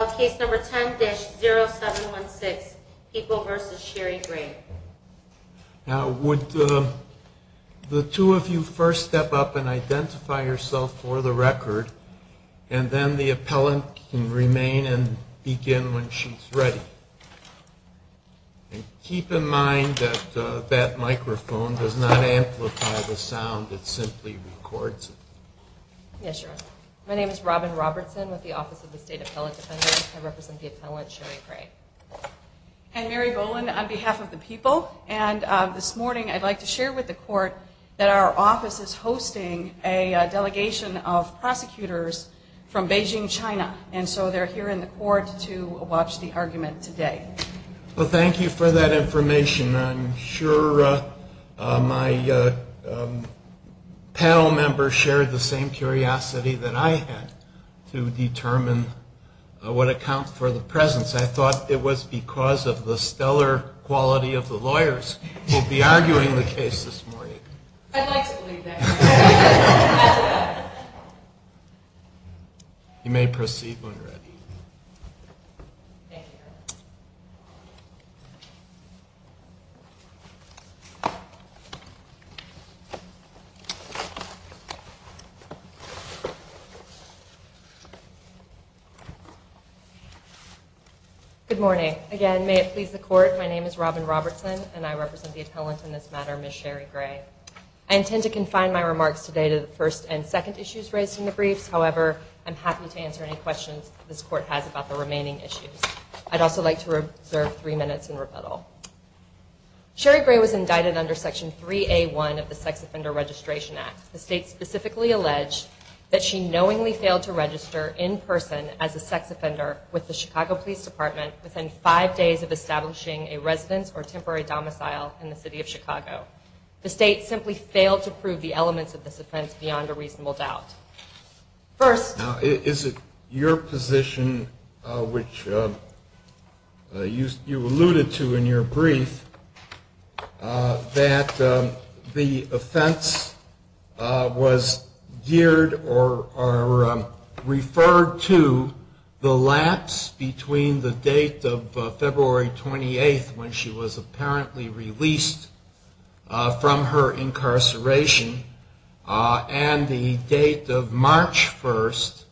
Would the two of you first step up and identify yourself for the record, and then the appellant can remain and begin when she's ready. Keep in mind that that microphone does not amplify the sound, it simply records it. My name is Robin Robertson with the Office of the State Appellate Defender, and I represent the appellant Sherri Gray. And Mary Golan on behalf of the people. And this morning I'd like to share with the court that our office is hosting a delegation of prosecutors from Beijing, China. And so they're here in the court to watch the argument today. Well, thank you for that information. I'm sure my panel members shared the same curiosity that I had to determine what account for the presence. I thought it was because of the stellar quality of the lawyers who will be arguing the case this morning. I'd like to believe that. You may proceed, Loretta. Thank you. Good morning. Again, may it please the court, my name is Robin Robertson, and I represent the appellant in this matter, Ms. Sherri Gray. I intend to confine my remarks today to the first and second issues raised in the brief. However, I'm happy to answer any questions this court has about the remaining issues. I'd also like to reserve three minutes in rebuttal. Sherri Gray was indicted under Section 3A1 of the Sex Offender Registration Act. The state specifically alleged that she knowingly failed to register in person as a sex offender with the Chicago Police Department within five days of establishing a resident or temporary domicile in the city of Chicago. The state simply failed to prove the elements of this offense beyond a reasonable doubt. First. Is it your position, which you alluded to in your brief, that the offense was geared or referred to the lapse between the date of February 28th when she was apparently released from her incarceration and the date of March 1st,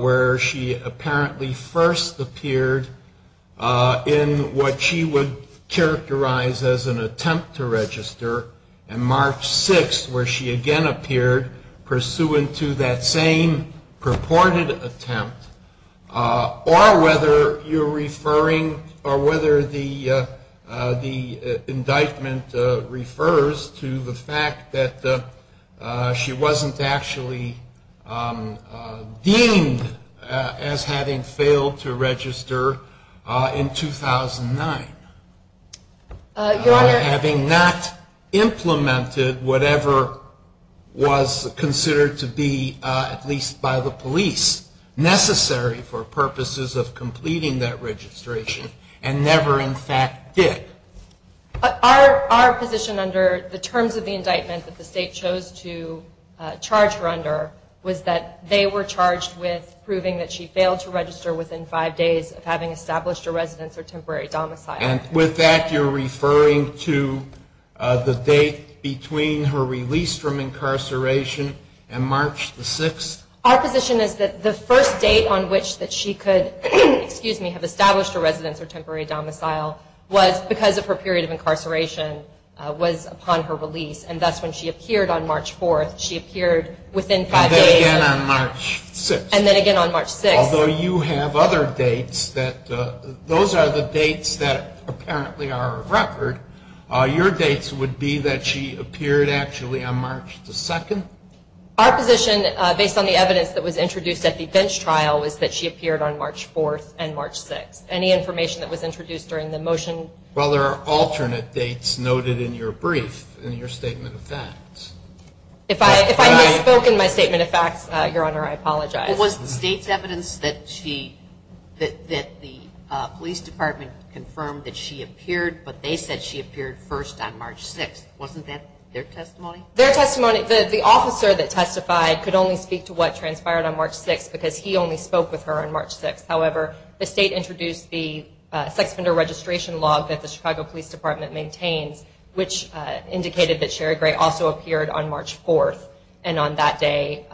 where she apparently first appeared in what she would characterize as an attempt to register, and March 6th, where she again appeared pursuant to that same purported attempt, or whether you're referring or whether the indictment refers to the fact that she wasn't actually deemed as having failed to register in 2009. By having not implemented whatever was considered to be, at least by the police, necessary for purposes of completing that registration and never in fact did. Our position under the terms of the indictment that the state chose to charge her under was that they were charged with proving that she failed to register within five days of having established a resident or temporary domicile. And with that, you're referring to the date between her release from incarceration and March 6th? Our position is that the first date on which that she could have established a resident or temporary domicile was because of her period of incarceration was upon her release, and that's when she appeared on March 4th. She appeared within five days. And then again on March 6th. And then again on March 6th. Although you have other dates that, those are the dates that apparently are a record, your dates would be that she appeared actually on March 2nd? Our position, based on the evidence that was introduced at the bench trial, is that she appeared on March 4th and March 6th. Any information that was introduced during the motion? Well, there are alternate dates noted in your brief, in your statement of facts. If I had spoken my statement of facts, Your Honor, I apologize. There was state evidence that the police department confirmed that she appeared, but they said she appeared first on March 6th. Wasn't that their testimony? Their testimony, the officer that testified could only speak to what transpired on March 6th because he only spoke with her on March 6th. However, the state introduced the sex offender registration law that the Chicago Police Department maintained, which indicated that Sherry Gray also appeared on March 4th, and on that day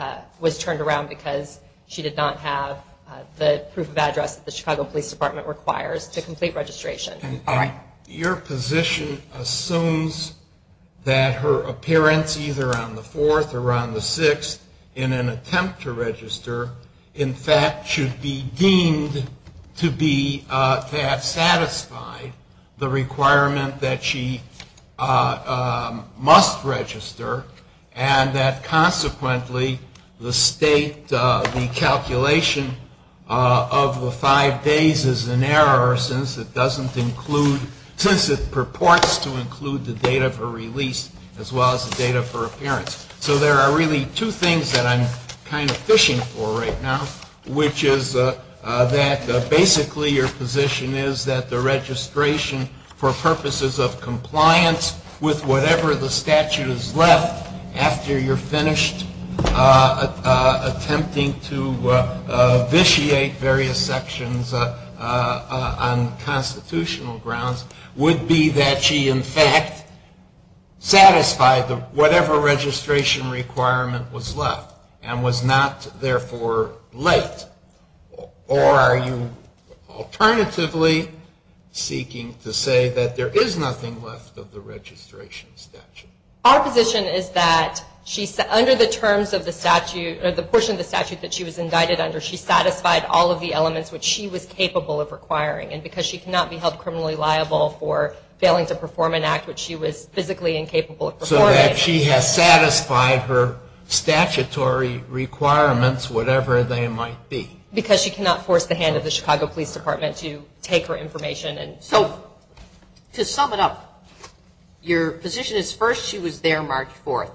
was turned around because she did not have the proof of address that the Chicago Police Department requires to complete registration. Your position assumes that her appearance, either on the 4th or on the 6th, in an attempt to register, in fact, should be deemed to be, to have satisfied the requirement that she must register and that consequently the state, the calculation of the five days is in error since it doesn't include, since it purports to include the date of her release as well as the date of her appearance. So there are really two things that I'm kind of fishing for right now, which is that basically your position is that the registration, for purposes of compliance with whatever the statute has left after you're finished attempting to vitiate various sections on constitutional grounds, would be that she, in fact, satisfied whatever registration requirement was left and was not, therefore, late. Or are you alternatively seeking to say that there is nothing left of the registration statute? Our position is that she, under the terms of the statute, or the portion of the statute that she was indicted under, she satisfied all of the elements which she was capable of requiring, and because she cannot be held criminally liable for failing to perform an act which she was physically incapable of performing. Or that she has satisfied her statutory requirements, whatever they might be. Because she cannot force the hand of the Chicago Police Department to take her information. So, to sum it up, your position is first she was there, marked forth.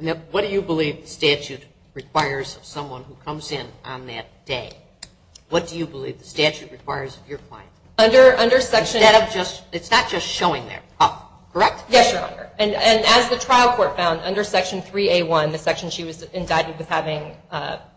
Now, what do you believe the statute requires of someone who comes in on that day? What do you believe the statute requires of your client? It's not just showing their cup, correct? Yes, Your Honor. And as the trial court found, under Section 3A1, the section she was indicted with having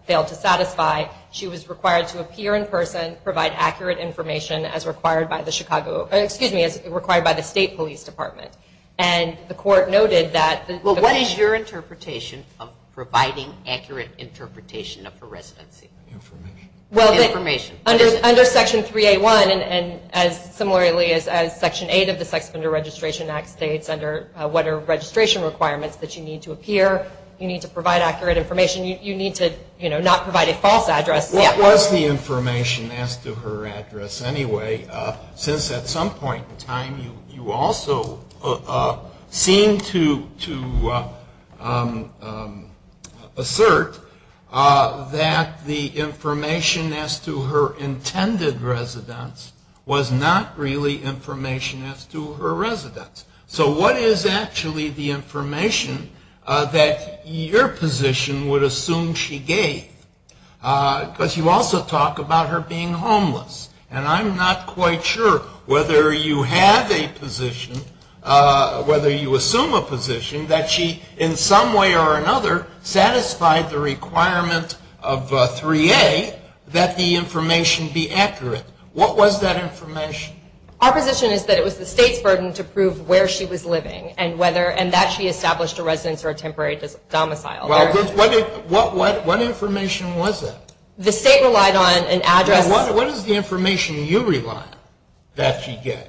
failed to satisfy, she was required to appear in person, provide accurate information as required by the Chicago, excuse me, as required by the State Police Department. And the court noted that... Well, what is your interpretation of providing accurate interpretation of the resident's information? Well, under Section 3A1 and similarly as Section 8 of the Sex Offender Registration Act states under what are registration requirements that you need to appear, you need to provide accurate information, you need to, you know, not provide a false address. What is the information as to her address anyway? Since at some point in time you also seem to assert that the information as to her intended residence was not really information as to her residence. So what is actually the information that your position would assume she gave? But you also talk about her being homeless, and I'm not quite sure whether you have a position, whether you assume a position, that she in some way or another satisfied the requirement of 3A that the information be accurate. What was that information? Our position is that it was the State's burden to prove where she was living and that she established a residence or a temporary domicile. Well, what information was it? The State relied on an address. What is the information you rely on that she gave?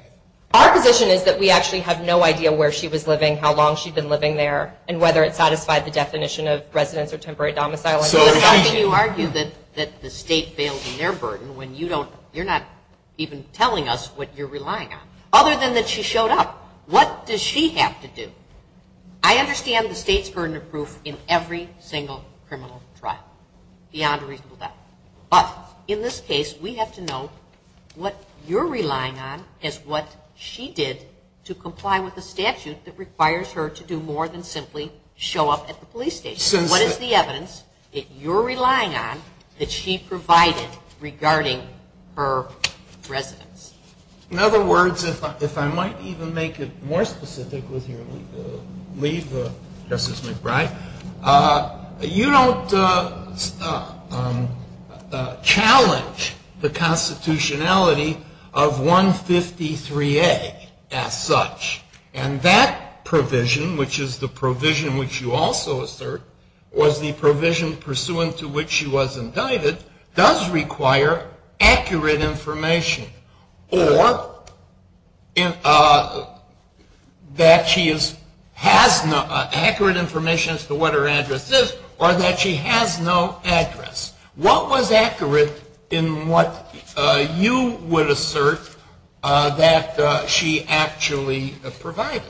Our position is that we actually have no idea where she was living, how long she'd been living there, and whether it satisfied the definition of residence or temporary domicile. So you argue that the State failed in their burden when you don't, you're not even telling us what you're relying on, other than that she showed up. What does she have to do? I understand the State's burden to prove in every single criminal trial, beyond the reasonable doubt. But in this case, we have to know what you're relying on is what she did to comply with the statute that requires her to do more than simply show up at the police station. What is the evidence that you're relying on that she provided regarding her residence? In other words, if I might even make it more specific with your leave, Justice Smith, right, you don't challenge the constitutionality of 153A as such. And that provision, which is the provision which you also assert, or the provision pursuant to which she was indicted, does require accurate information. Or that she has accurate information as to what her address is, or that she has no address. What was accurate in what you would assert that she actually provided?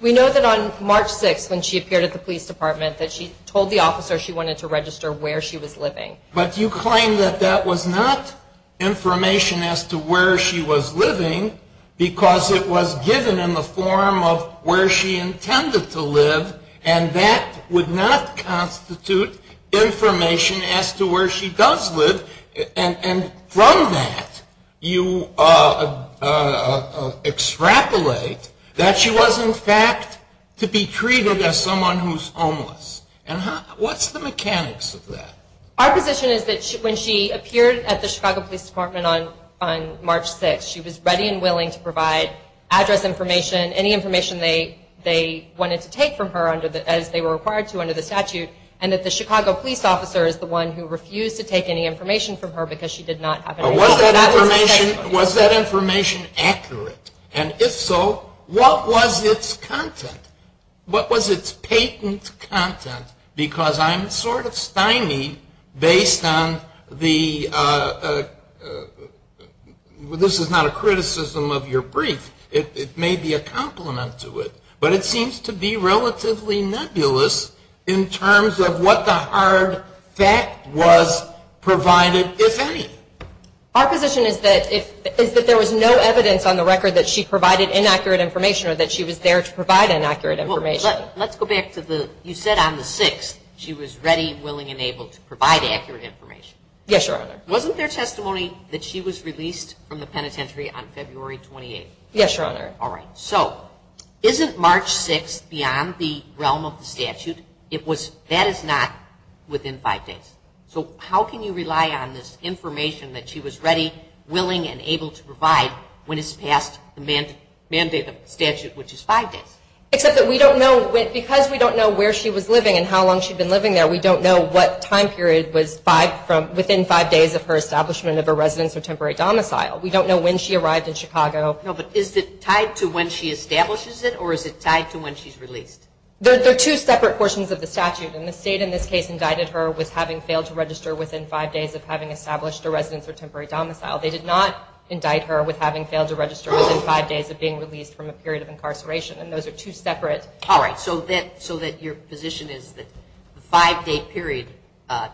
We know that on March 6th, when she appeared at the police department, that she told the officer she wanted to register where she was living. But you claim that that was not information as to where she was living, because it was given in the form of where she intended to live, and that would not constitute information as to where she does live. And from that, you extrapolate that she was, in fact, to be treated as someone who's homeless. And what's the mechanics of that? Our position is that when she appeared at the Chicago Police Department on March 6th, she was ready and willing to provide address information, any information they wanted to take from her as they were required to under the statute, and that the Chicago police officer is the one who refused to take any information from her because she did not have any information. Was that information accurate? And if so, what was its content? What was its patent content? Because I'm sort of spying based on the... This is not a criticism of your brief. It may be a compliment to it. But it seems to be relatively nebulous in terms of what the hard fact was provided it is. Our position is that there was no evidence on the record that she provided inaccurate information or that she was there to provide inaccurate information. Let's go back to the... You said on the 6th she was ready, willing, and able to provide accurate information. Yes, Your Honor. Wasn't there testimony that she was released from the penitentiary on February 28th? Yes, Your Honor. All right. So isn't March 6th beyond the realm of the statute? That is not within five days. So how can you rely on this information that she was ready, willing, and able to provide when it's past the mandate of the statute, which is five days? Because we don't know where she was living and how long she'd been living there, we don't know what time period was within five days of her establishment of her residence We don't know when she arrived in Chicago. No, but is it tied to when she establishes it or is it tied to when she's released? Those are two separate portions of the statute. And the state in this case indicted her with having failed to register within five days of having established a residence or temporary domicile. They did not indict her with having failed to register within five days of being released from a period of incarceration. And those are two separate... All right. So that your position is that the five-day period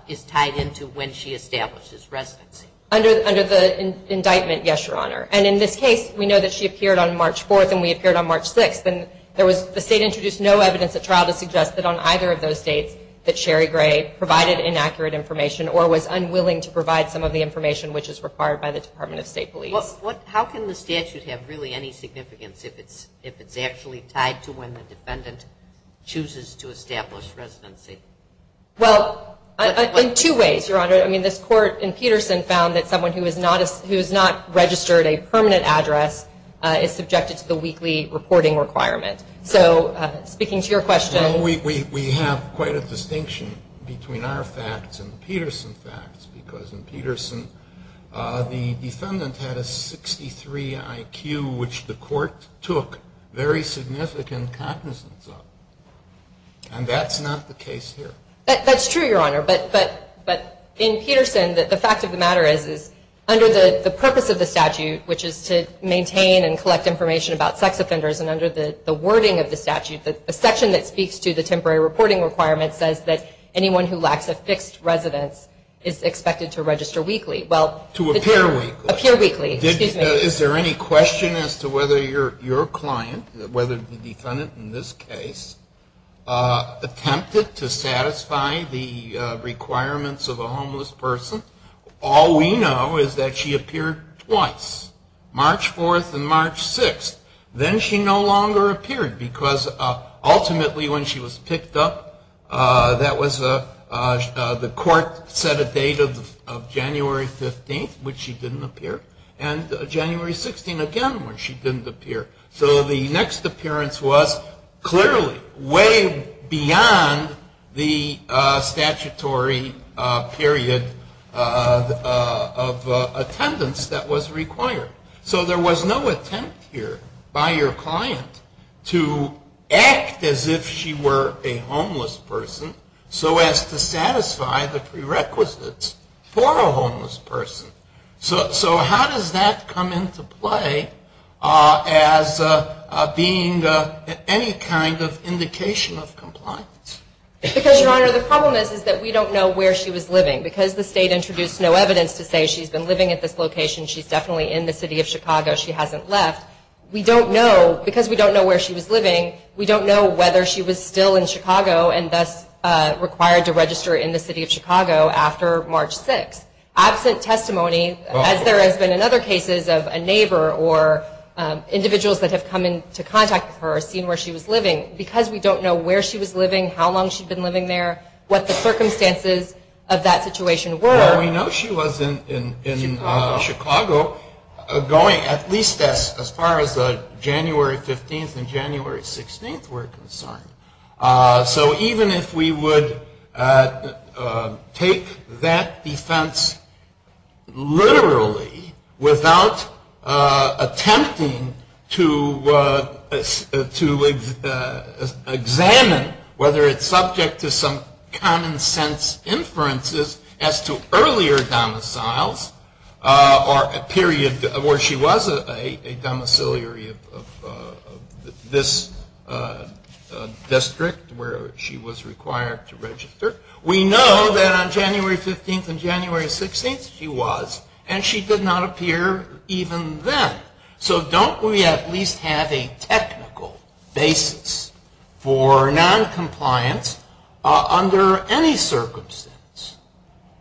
is tied into when she establishes residency. Under the indictment, yes, Your Honor. And in this case, we know that she appeared on March 4th and we appeared on March 6th. And the state introduced no evidence that trial has suggested on either of those dates that Sherry Gray provided inaccurate information or was unwilling to provide some of the information which is required by the Department of State Police. How can the statute have really any significance if it's actually tied to when the defendant chooses to establish residency? Well, in two ways, Your Honor. I mean, this court in Peterson found that someone who has not registered a permanent address is subjected to the weekly reporting requirement. So speaking to your question... Well, we have quite a distinction between our facts and the Peterson facts because in Peterson, the defendant had a 63 IQ which the court took very significant cognizance of. And that's not the case here. That's true, Your Honor. But in Peterson, the fact of the matter is, under the purpose of the statute, which is to maintain and collect information about sex offenders, and under the wording of the statute, the section that speaks to the temporary reporting requirement says that anyone who lacks a fixed residence is expected to register weekly. To appear weekly. Appear weekly. Is there any question as to whether your client, whether the defendant in this case, attempted to satisfy the requirements of a homeless person? All we know is that she appeared twice. March 4th and March 6th. Then she no longer appeared because ultimately when she was picked up, that was the court set a date of January 15th, which she didn't appear, and January 16th again, where she didn't appear. So the next appearance was clearly way beyond the statutory period of attendance that was required. So there was no attempt here by your client to act as if she were a homeless person, so as to satisfy the prerequisites for a homeless person. So how does that come into play as being any kind of indication of compliance? Because, Your Honor, the problem is that we don't know where she was living. Because the state introduced no evidence to say she's been living at this location, she's definitely in the city of Chicago. She hasn't left. Because we don't know where she was living, we don't know whether she was still in Chicago and thus required to register in the city of Chicago after March 6th. Absent testimony, as there has been in other cases of a neighbor or individuals that have come in to contact her or seen where she was living, because we don't know where she was living, how long she's been living there, what the circumstances of that situation were. Well, we know she lives in Chicago, going at least as far as the January 15th and January 16th were concerned. So even if we would take that defense literally without attempting to examine whether it's subject to some common sense inferences as to earlier domiciles or a period where she was a domiciliary of this district where she was required to register, we know that on January 15th and January 16th she was, and she did not appear even then. So don't we at least have a technical basis for noncompliance under any circumstances?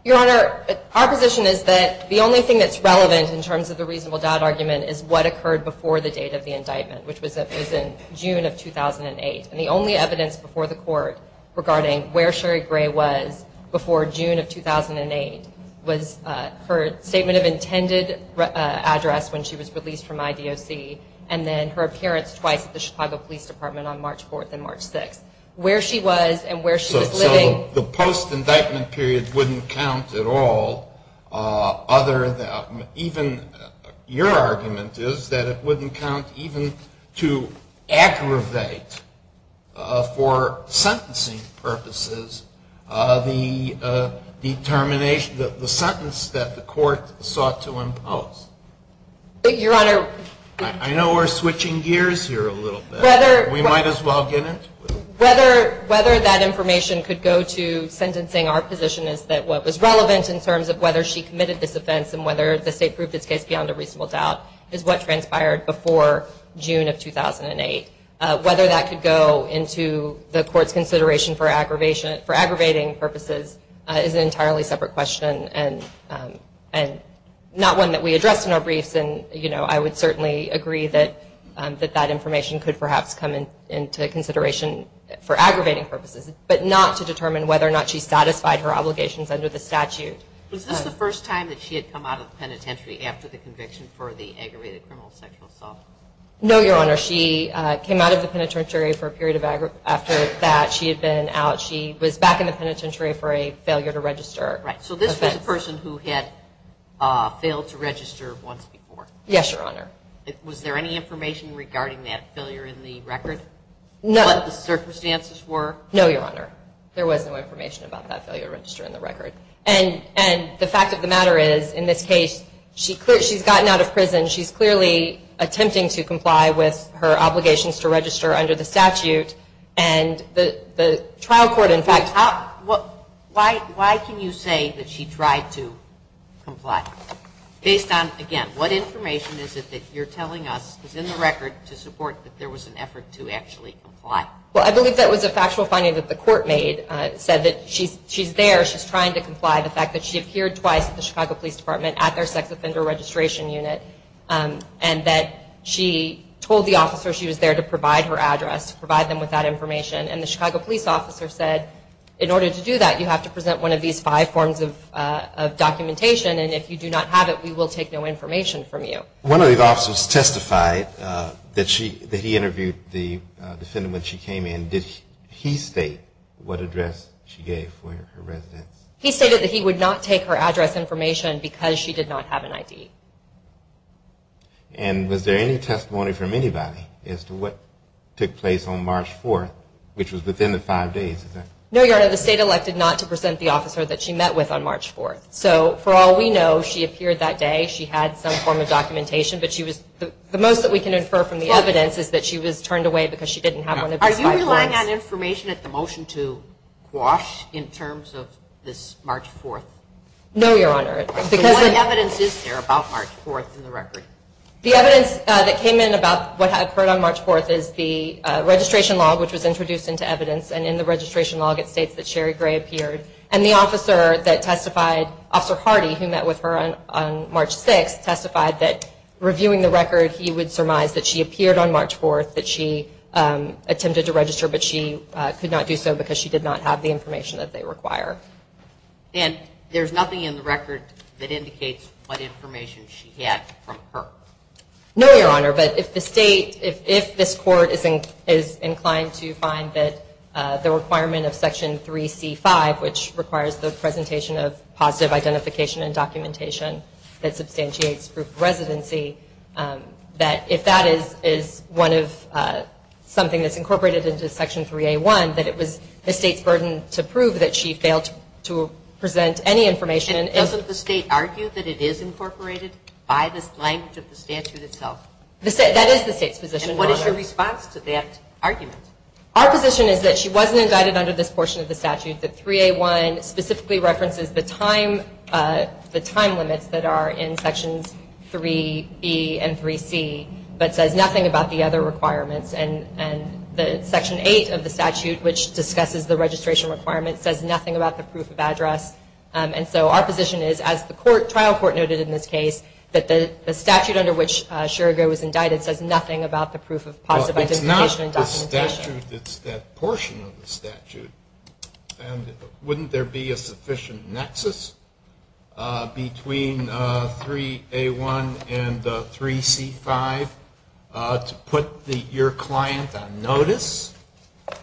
Your Honor, our position is that the only thing that's relevant in terms of the reasonable doubt argument is what occurred before the date of the indictment, which was in June of 2008. And the only evidence before the court regarding where Sherry Gray was before June of 2008 was her statement of intended address when she was released from IDOC and then her appearance twice at the Chicago Police Department on March 4th and March 6th. So the post-indictment period wouldn't count at all other than even, your argument is that it wouldn't count even to aggravate for sentencing purposes the determination of the sentence that the court sought to impose. Your Honor. I know we're switching gears here a little bit. We might as well get it. Whether that information could go to sentencing, our position is that what was relevant in terms of whether she committed this offense and whether the state proved this case beyond a reasonable doubt is what transpired before June of 2008. Whether that could go into the court's consideration for aggravating purposes is an entirely separate question and not one that we addressed in our brief. I would certainly agree that that information could perhaps come into consideration for aggravating purposes, but not to determine whether or not she satisfied her obligations under the statute. Was this the first time that she had come out of penitentiary after the conviction for the aggravated criminal sexual assault? No, Your Honor. She came out of the penitentiary for a period after that. She had been out. She was back in the penitentiary for a failure to register. So this was a person who had failed to register once before? Yes, Your Honor. Was there any information regarding that failure in the record? No. What the circumstances were? No, Your Honor. There was no information about that failure to register in the record. And the fact of the matter is, in this case, she's gotten out of prison. She's clearly attempting to comply with her obligations to register under the statute, and the trial court in fact... Why can you say that she tried to comply? Based on, again, what information is it that you're telling us is in the record to support that there was an effort to actually comply? Well, I believe that was a factual finding that the court made. It said that she's there. She's trying to comply. The fact that she appeared twice at the Chicago Police Department at their sex offender registration unit, and that she told the officer she was there to provide her address, to provide them with that information, and the Chicago Police officer said, in order to do that, you have to present one of these five forms of documentation, and if you do not have it, we will take no information from you. One of the officers testified that he interviewed the defendant when she came in. Did he state what address she gave for her residence? He stated that he would not take her address information because she did not have an ID. And was there any testimony from anybody as to what took place on March 4th, which was within the five days? No, Your Honor. The state elected not to present the officer that she met with on March 4th. So, for all we know, she appeared that day. She had some form of documentation, but the most that we can infer from the evidence is that she was turned away because she didn't have one of these five forms. Are you relying on information at the motion to quash in terms of this March 4th? No, Your Honor. What evidence is there about March 4th in the record? The evidence that came in about what occurred on March 4th is the registration log, which was introduced into evidence, and in the registration log it states that Sherry Gray appeared, and the officer that testified, Officer Hardy, who met with her on March 6th, testified that reviewing the record, he would surmise that she appeared on March 4th, that she attempted to register, but she could not do so because she did not have the information that they require. And there's nothing in the record that indicates what information she had from her? No, Your Honor. But if the state, if this court is inclined to find that the requirement of Section 3C-5, which requires the presentation of positive identification and documentation that substantiates proof of residency, that if that is one of something that's incorporated into Section 3A-1, that it was the state's burden to prove that she failed to present any information. And doesn't the state argue that it is incorporated by the length of the statute itself? That is the state's position. And what is your response to that argument? Our position is that she wasn't invited under this portion of the statute, that Section 3A-1 specifically references the time limits that are in Sections 3E and 3C, but says nothing about the other requirements. And Section 8 of the statute, which discusses the registration requirements, says nothing about the proof of address. And so our position is, as the trial court noted in this case, that the statute under which Sherry Gray was indicted says nothing about the proof of positive identification and documentation. That's true. It's that portion of the statute. And wouldn't there be a sufficient nexus between 3A-1 and 3C-5 to put your client on notice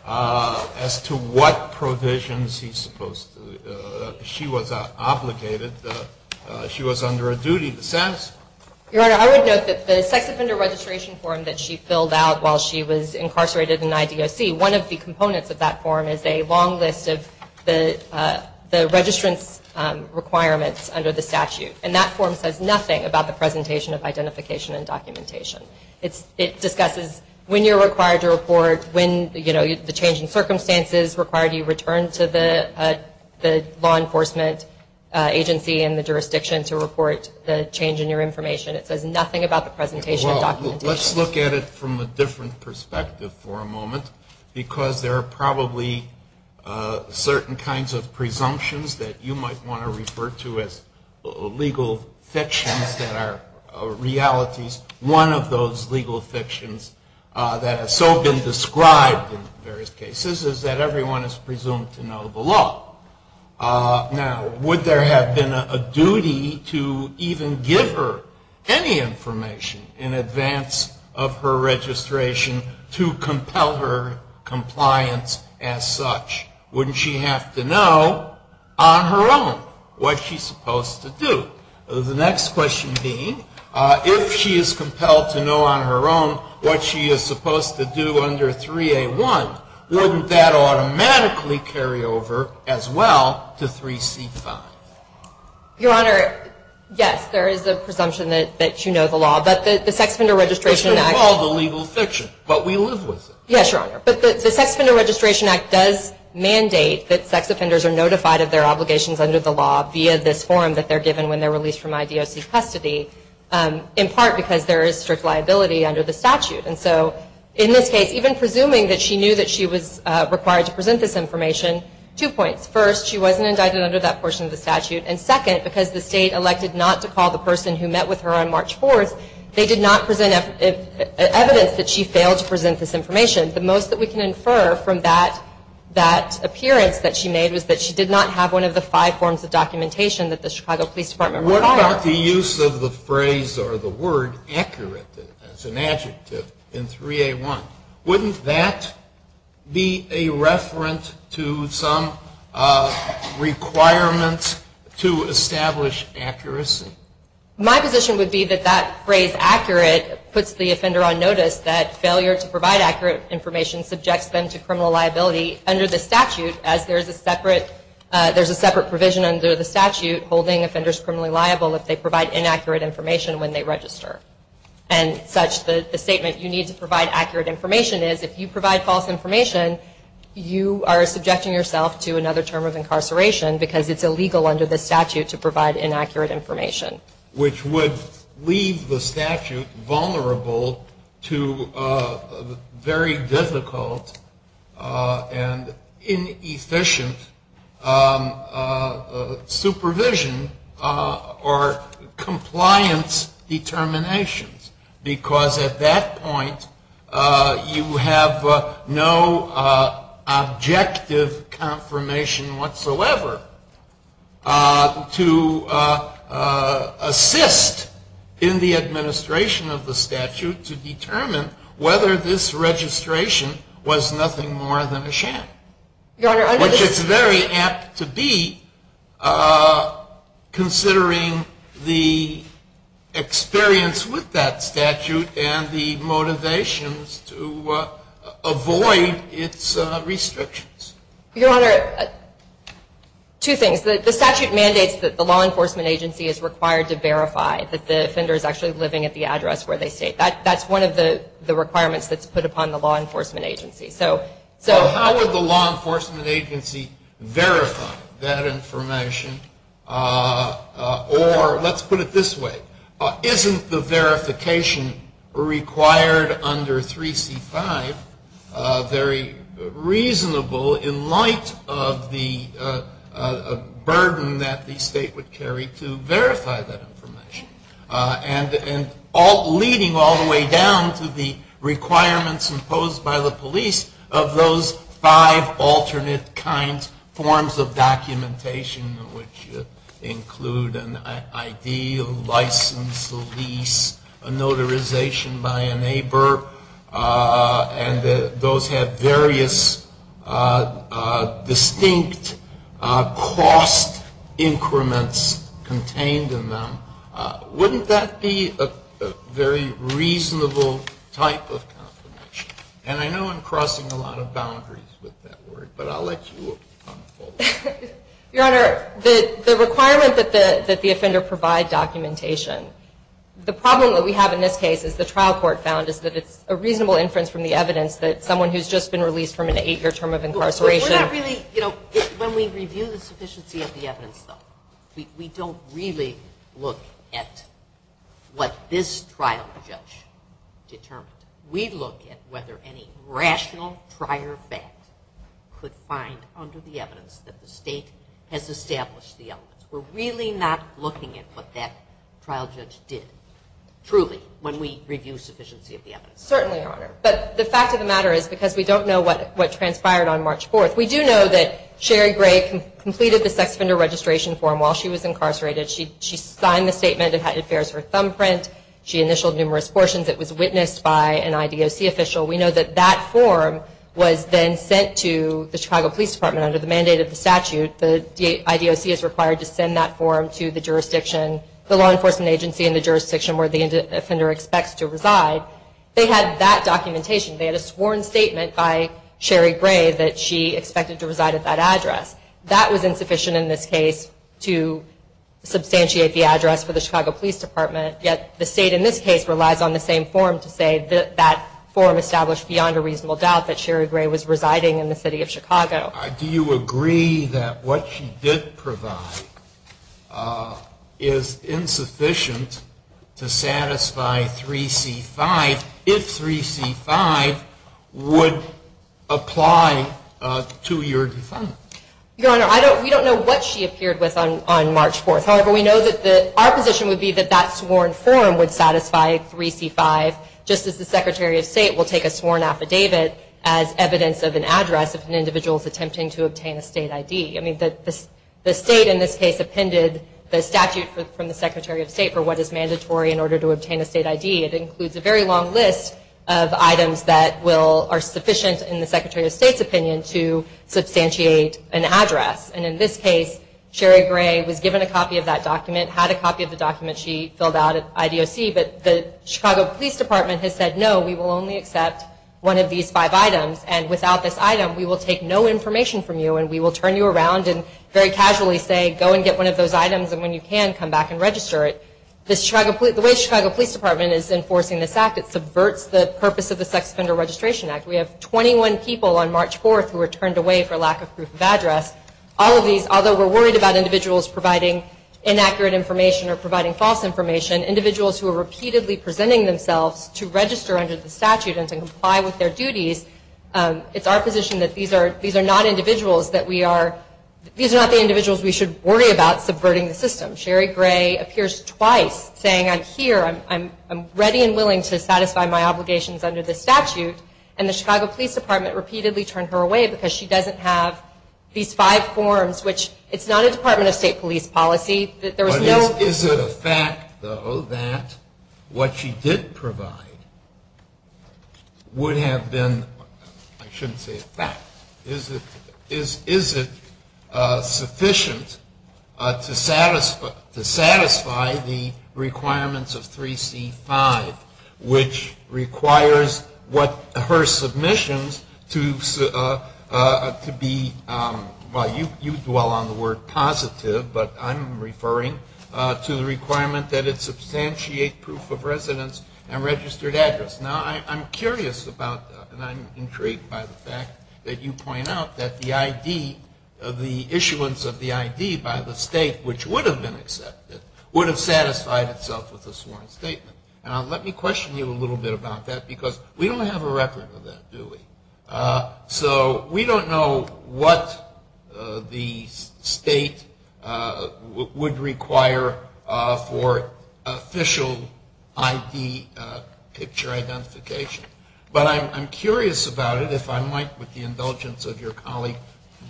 as to what provisions she was obligated? Your Honor, I would note that the sex offender registration form that she filled out while she was incarcerated in IDOC, one of the components of that form is a long list of the registration requirements under the statute. And that form says nothing about the presentation of identification and documentation. It discusses when you're required to report, when, you know, the changing circumstances required you return to the law enforcement agency and the jurisdiction to report the change in your information. It says nothing about the presentation of documentation. Let's look at it from a different perspective for a moment, because there are probably certain kinds of presumptions that you might want to refer to as legal fictions that are realities. One of those legal fictions that have so been described in various cases is that everyone is presumed to know the law. Now, would there have been a duty to even give her any information in advance of her registration to compel her compliance as such? Wouldn't she have to know on her own what she's supposed to do? The next question being, if she is compelled to know on her own what she is supposed to do under 3A-1, wouldn't that automatically carry over as well to 3C-5? Your Honor, yes, there is a presumption that you know the law. But the Sex Offender Registration Act- Which is called a legal fiction, but we live with it. Yes, Your Honor. But the Sex Offender Registration Act does mandate that sex offenders are notified of their obligations under the law via this form that they're given when they're released from IDFC custody, in part because there is strict liability under the statute. And so in this case, even presuming that she knew that she was required to present this information, two points. First, she wasn't indicted under that portion of the statute. And second, because the state elected not to call the person who met with her on March 4th, they did not present evidence that she failed to present this information. The most that we can infer from that appearance that she made was that she did not have one of the five forms of documentation that the Chicago Police Department required. Your Honor, the use of the phrase or the word accurate, that's an adjective, in 3A1, wouldn't that be a reference to some requirement to establish accuracy? My position would be that that phrase accurate puts the offender on notice that failure to provide accurate information subjects them to criminal liability under the statute, as there's a separate provision under the statute holding offenders criminally liable if they provide inaccurate information when they register. And such the statement you need to provide accurate information is, if you provide false information, you are subjecting yourself to another term of incarceration because it's illegal under the statute to provide inaccurate information. Which would leave the statute vulnerable to very difficult and inefficient supervision or compliance determinations. Because at that point, you have no objective confirmation whatsoever to assist in the administration of the statute to determine whether this registration was nothing more than a sham. Which is very apt to be, considering the experience with that statute and the motivations to avoid its restrictions. Your Honor, two things. The statute mandates that the law enforcement agency is required to verify that the offender is actually living at the address where they stay. That's one of the requirements that's put upon the law enforcement agency. So how would the law enforcement agency verify that information? Or let's put it this way. Isn't the verification required under 3C-5 very reasonable in light of the burden that the state would carry to verify that information? And leading all the way down to the requirements imposed by the police of those five alternate kinds, forms of documentation, which include an ID, a license, a lease, a notarization by a neighbor. And those have various distinct cost increments contained in them. Wouldn't that be a very reasonable type of confirmation? And I know I'm crossing a lot of boundaries with that word, but I'll let you come forward. Your Honor, the requirement that the offender provide documentation, the problem that we have in this case is the trial court found is that it's a reasonable inference from the evidence that someone who's just been released from an eight-year term of incarceration. We're not really, you know, when we review the sufficiency of the evidence, though, we don't really look at what this trial judge determined. We look at whether any rational prior fact could find under the evidence that the state has established the evidence. We're really not looking at what that trial judge did, truly, when we review sufficiency of the evidence. Certainly, Your Honor. But the fact of the matter is, because we don't know what transpired on March 4th, we do know that Sherry Gray completed the sex offender registration form while she was incarcerated. She signed the statement. It bears her thumbprint. She initialed numerous portions. It was witnessed by an IDOC official. We know that that form was then sent to the Chicago Police Department under the mandate of the statute. The IDOC is required to send that form to the jurisdiction, the law enforcement agency in the jurisdiction where the offender expects to reside. They had that documentation. They had a sworn statement by Sherry Gray that she expected to reside at that address. That was insufficient in this case to substantiate the address for the Chicago Police Department, yet the state in this case relied on the same form to say that that form established beyond a reasonable doubt that Sherry Gray was residing in the city of Chicago. Do you agree that what she did provide is insufficient to satisfy 3C-5 if 3C-5 would apply to your defense? Your Honor, we don't know what she appeared with on March 4th. However, we know that our position would be that that sworn form would satisfy 3C-5, just as the Secretary of State will take a sworn affidavit as evidence of an address of an individual attempting to obtain a state ID. I mean, the state in this case appended the statute from the Secretary of State for what is mandatory in order to obtain a state ID. It includes a very long list of items that are sufficient in the Secretary of State's opinion to substantiate an address. And in this case, Sherry Gray was given a copy of that document, had a copy of the document she filled out at IDOC, but the Chicago Police Department has said, no, we will only accept one of these five items. And without this item, we will take no information from you and we will turn you around and very casually say, go and get one of those items and when you can, come back and register it. The way the Chicago Police Department is enforcing this act, it subverts the purpose of the Sex Offender Registration Act. We have 21 people on March 4th who were turned away for lack of proof of address. Although we're worried about individuals providing inaccurate information or providing false information, individuals who are repeatedly presenting themselves to register under the statute and comply with their duties, it's our position that these are not individuals that we are, these are not the individuals we should worry about subverting the system. Sherry Gray appears twice saying, I'm here, I'm ready and willing to satisfy my obligations under the statute, and the Chicago Police Department repeatedly turned her away because she doesn't have these five forms, which it's not a Department of State police policy. Is it a fact, though, that what she did provide would have been, I shouldn't say a fact, is it sufficient to satisfy the requirements of 3C5, which requires what her submissions to be, well, you dwell on the word positive, but I'm referring to the requirement that it substantiate proof of residence and registered address. Now, I'm curious about that, and I'm intrigued by the fact that you point out that the ID, the issuance of the ID by the state, which would have been accepted, would have satisfied itself with this one statement. Now, let me question you a little bit about that, because we don't have a record of that, do we? So, we don't know what the state would require for official ID picture identification, but I'm curious about it, if I might, with the indulgence of your colleague,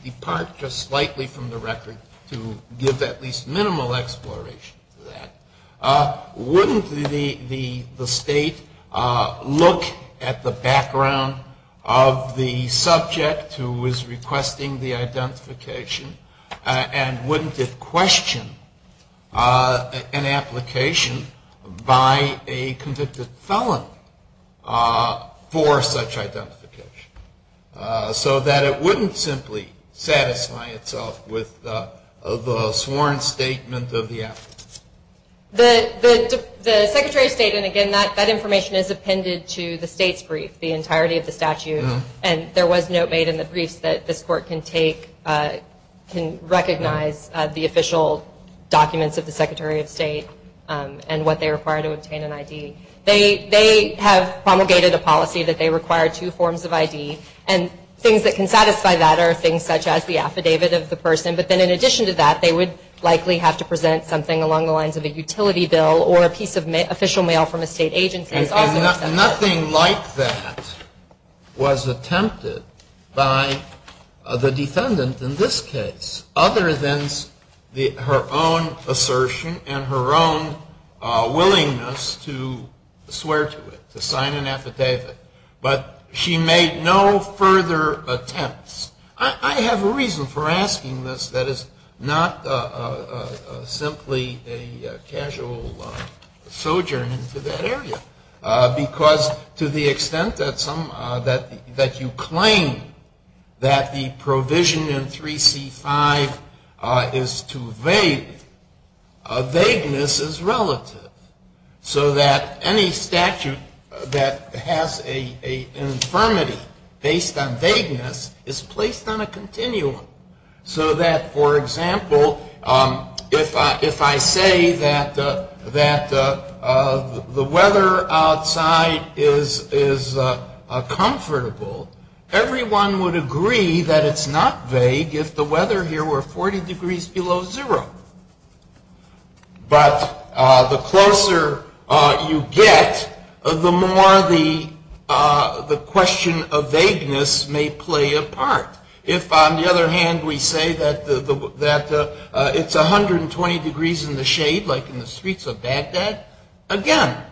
depart just slightly from the record to give at least minimal exploration to that. Wouldn't the state look at the background of the subject who is requesting the identification, and wouldn't it question an application by a convicted felon for such identification, so that it wouldn't simply satisfy itself with the sworn statement of the applicant? The secretary's statement, again, that information is appended to the state's brief, the entirety of the statute, and there was note made in the brief that the court can take, can recognize the official documents of the secretary of state and what they require to obtain an ID. They have promulgated a policy that they require two forms of ID, and things that can satisfy that are things such as the affidavit of the person, but then in addition to that, they would likely have to present something along the lines of a utility bill or a piece of official mail from a state agency. Nothing like that was attempted by the defendant in this case, other than her own assertion and her own willingness to swear to it, to sign an affidavit. But she made no further attempts. I have a reason for asking this that is not simply a casual sojourn into that area, because to the extent that you claim that the provision in 3C-5 is too vague, vagueness is relative, so that any statute that has an infirmity based on vagueness is placed on a continuum. So that, for example, if I say that the weather outside is comfortable, everyone would agree that it's not vague if the weather here were 40 degrees below zero. But the closer you get, the more the question of vagueness may play a part. If, on the other hand, we say that it's 120 degrees in the shade, like in the streets of Baghdad, again,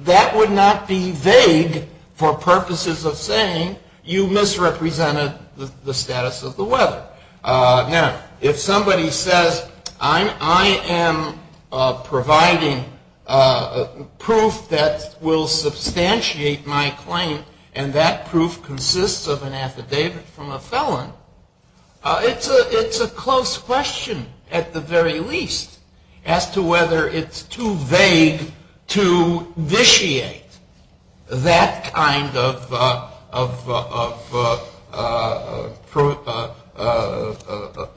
that would not be vague for purposes of saying you misrepresented the status of the weather. Now, if somebody says, I am providing proof that will substantiate my claim, and that proof consists of an affidavit from a felon, it's a close question, at the very least, as to whether it's too vague to vitiate that kind of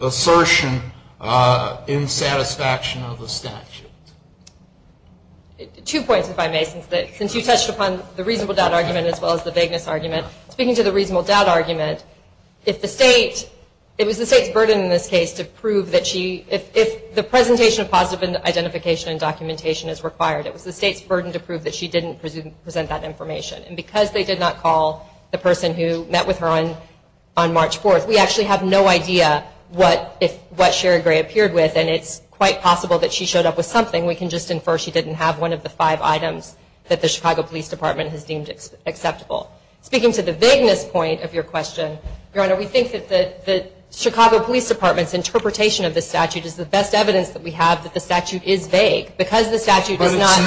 assertion in satisfaction of the statute. Two points, if I may, since you touched upon the reasonable doubt argument as well as the vagueness argument. Speaking to the reasonable doubt argument, it was the state's burden in this case to prove that she, if the presentation of positive identification and documentation is required, it was the state's burden to prove that she didn't present that information. And because they did not call the person who met with her on March 4th, we actually have no idea what Sharon Gray appeared with, and it's quite possible that she showed up with something. We can just infer she didn't have one of the five items that the Chicago Police Department has deemed acceptable. Speaking to the vagueness point of your question, Your Honor, we think that the Chicago Police Department's interpretation of the statute is the best evidence that we have that the statute is vague, because the statute does not-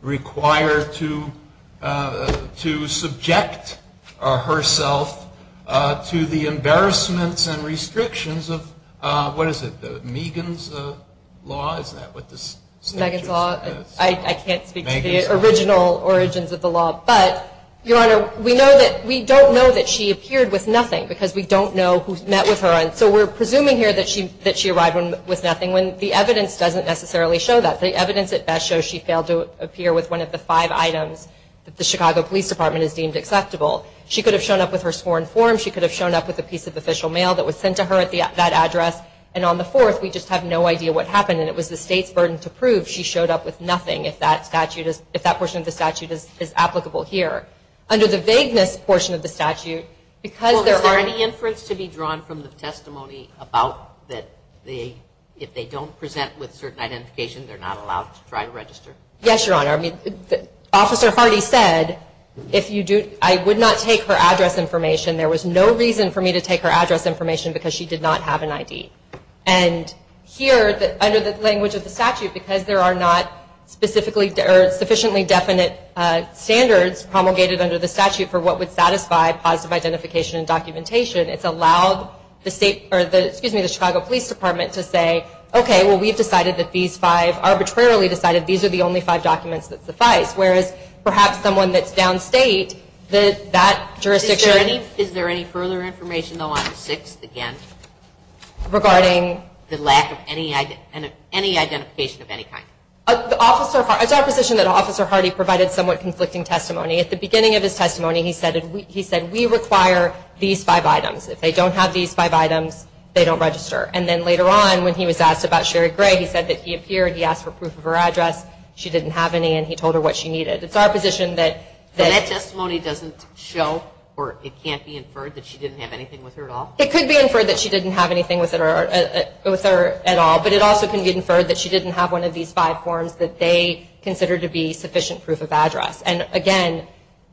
require to subject herself to the embarrassment and restrictions of, what is it, Megan's Law? Is that what the statute says? Megan's Law. I can't speak to the original origins of the law. But, Your Honor, we don't know that she appeared with nothing, because we don't know who met with her. So we're presuming here that she arrived with nothing, when the evidence doesn't necessarily show that. The evidence at best shows she failed to appear with one of the five items that the Chicago Police Department has deemed acceptable. She could have shown up with her sworn form. She could have shown up with a piece of official mail that was sent to her at that address. And on the fourth, we just have no idea what happened, and it was the state's burden to prove she showed up with nothing, if that portion of the statute is applicable here. Under the vagueness portion of the statute, because there are- Well, is there any inference to be drawn from the testimony about that if they don't present with certain identification, they're not allowed to try to register? Yes, Your Honor. Officer Hardy said, if you do- I would not take her address information. There was no reason for me to take her address information, because she did not have an ID. And here, under the language of the statute, because there are not sufficiently definite standards promulgated under the statute for what would satisfy positive identification and documentation, it's allowed the Chicago Police Department to say, okay, well, we've decided that these five arbitrarily decided these are the only five documents that suffice. Whereas, perhaps someone that's downstate, that jurisdiction- Is there any further information on item six, again? Regarding? The lack of any identification of any kind. It's our position that Officer Hardy provided somewhat conflicting testimony. At the beginning of his testimony, he said, we require these five items. If they don't have these five items, they don't register. And then later on, when he was asked about Sherry Gray, he said that he appeared, he asked for proof of her address, she didn't have any, and he told her what she needed. It's our position that- So that testimony doesn't show, or it can't be inferred, that she didn't have anything with her at all? It could be inferred that she didn't have anything with her at all, but it also can be inferred that she didn't have one of these five forms that they consider to be sufficient proof of address. And again,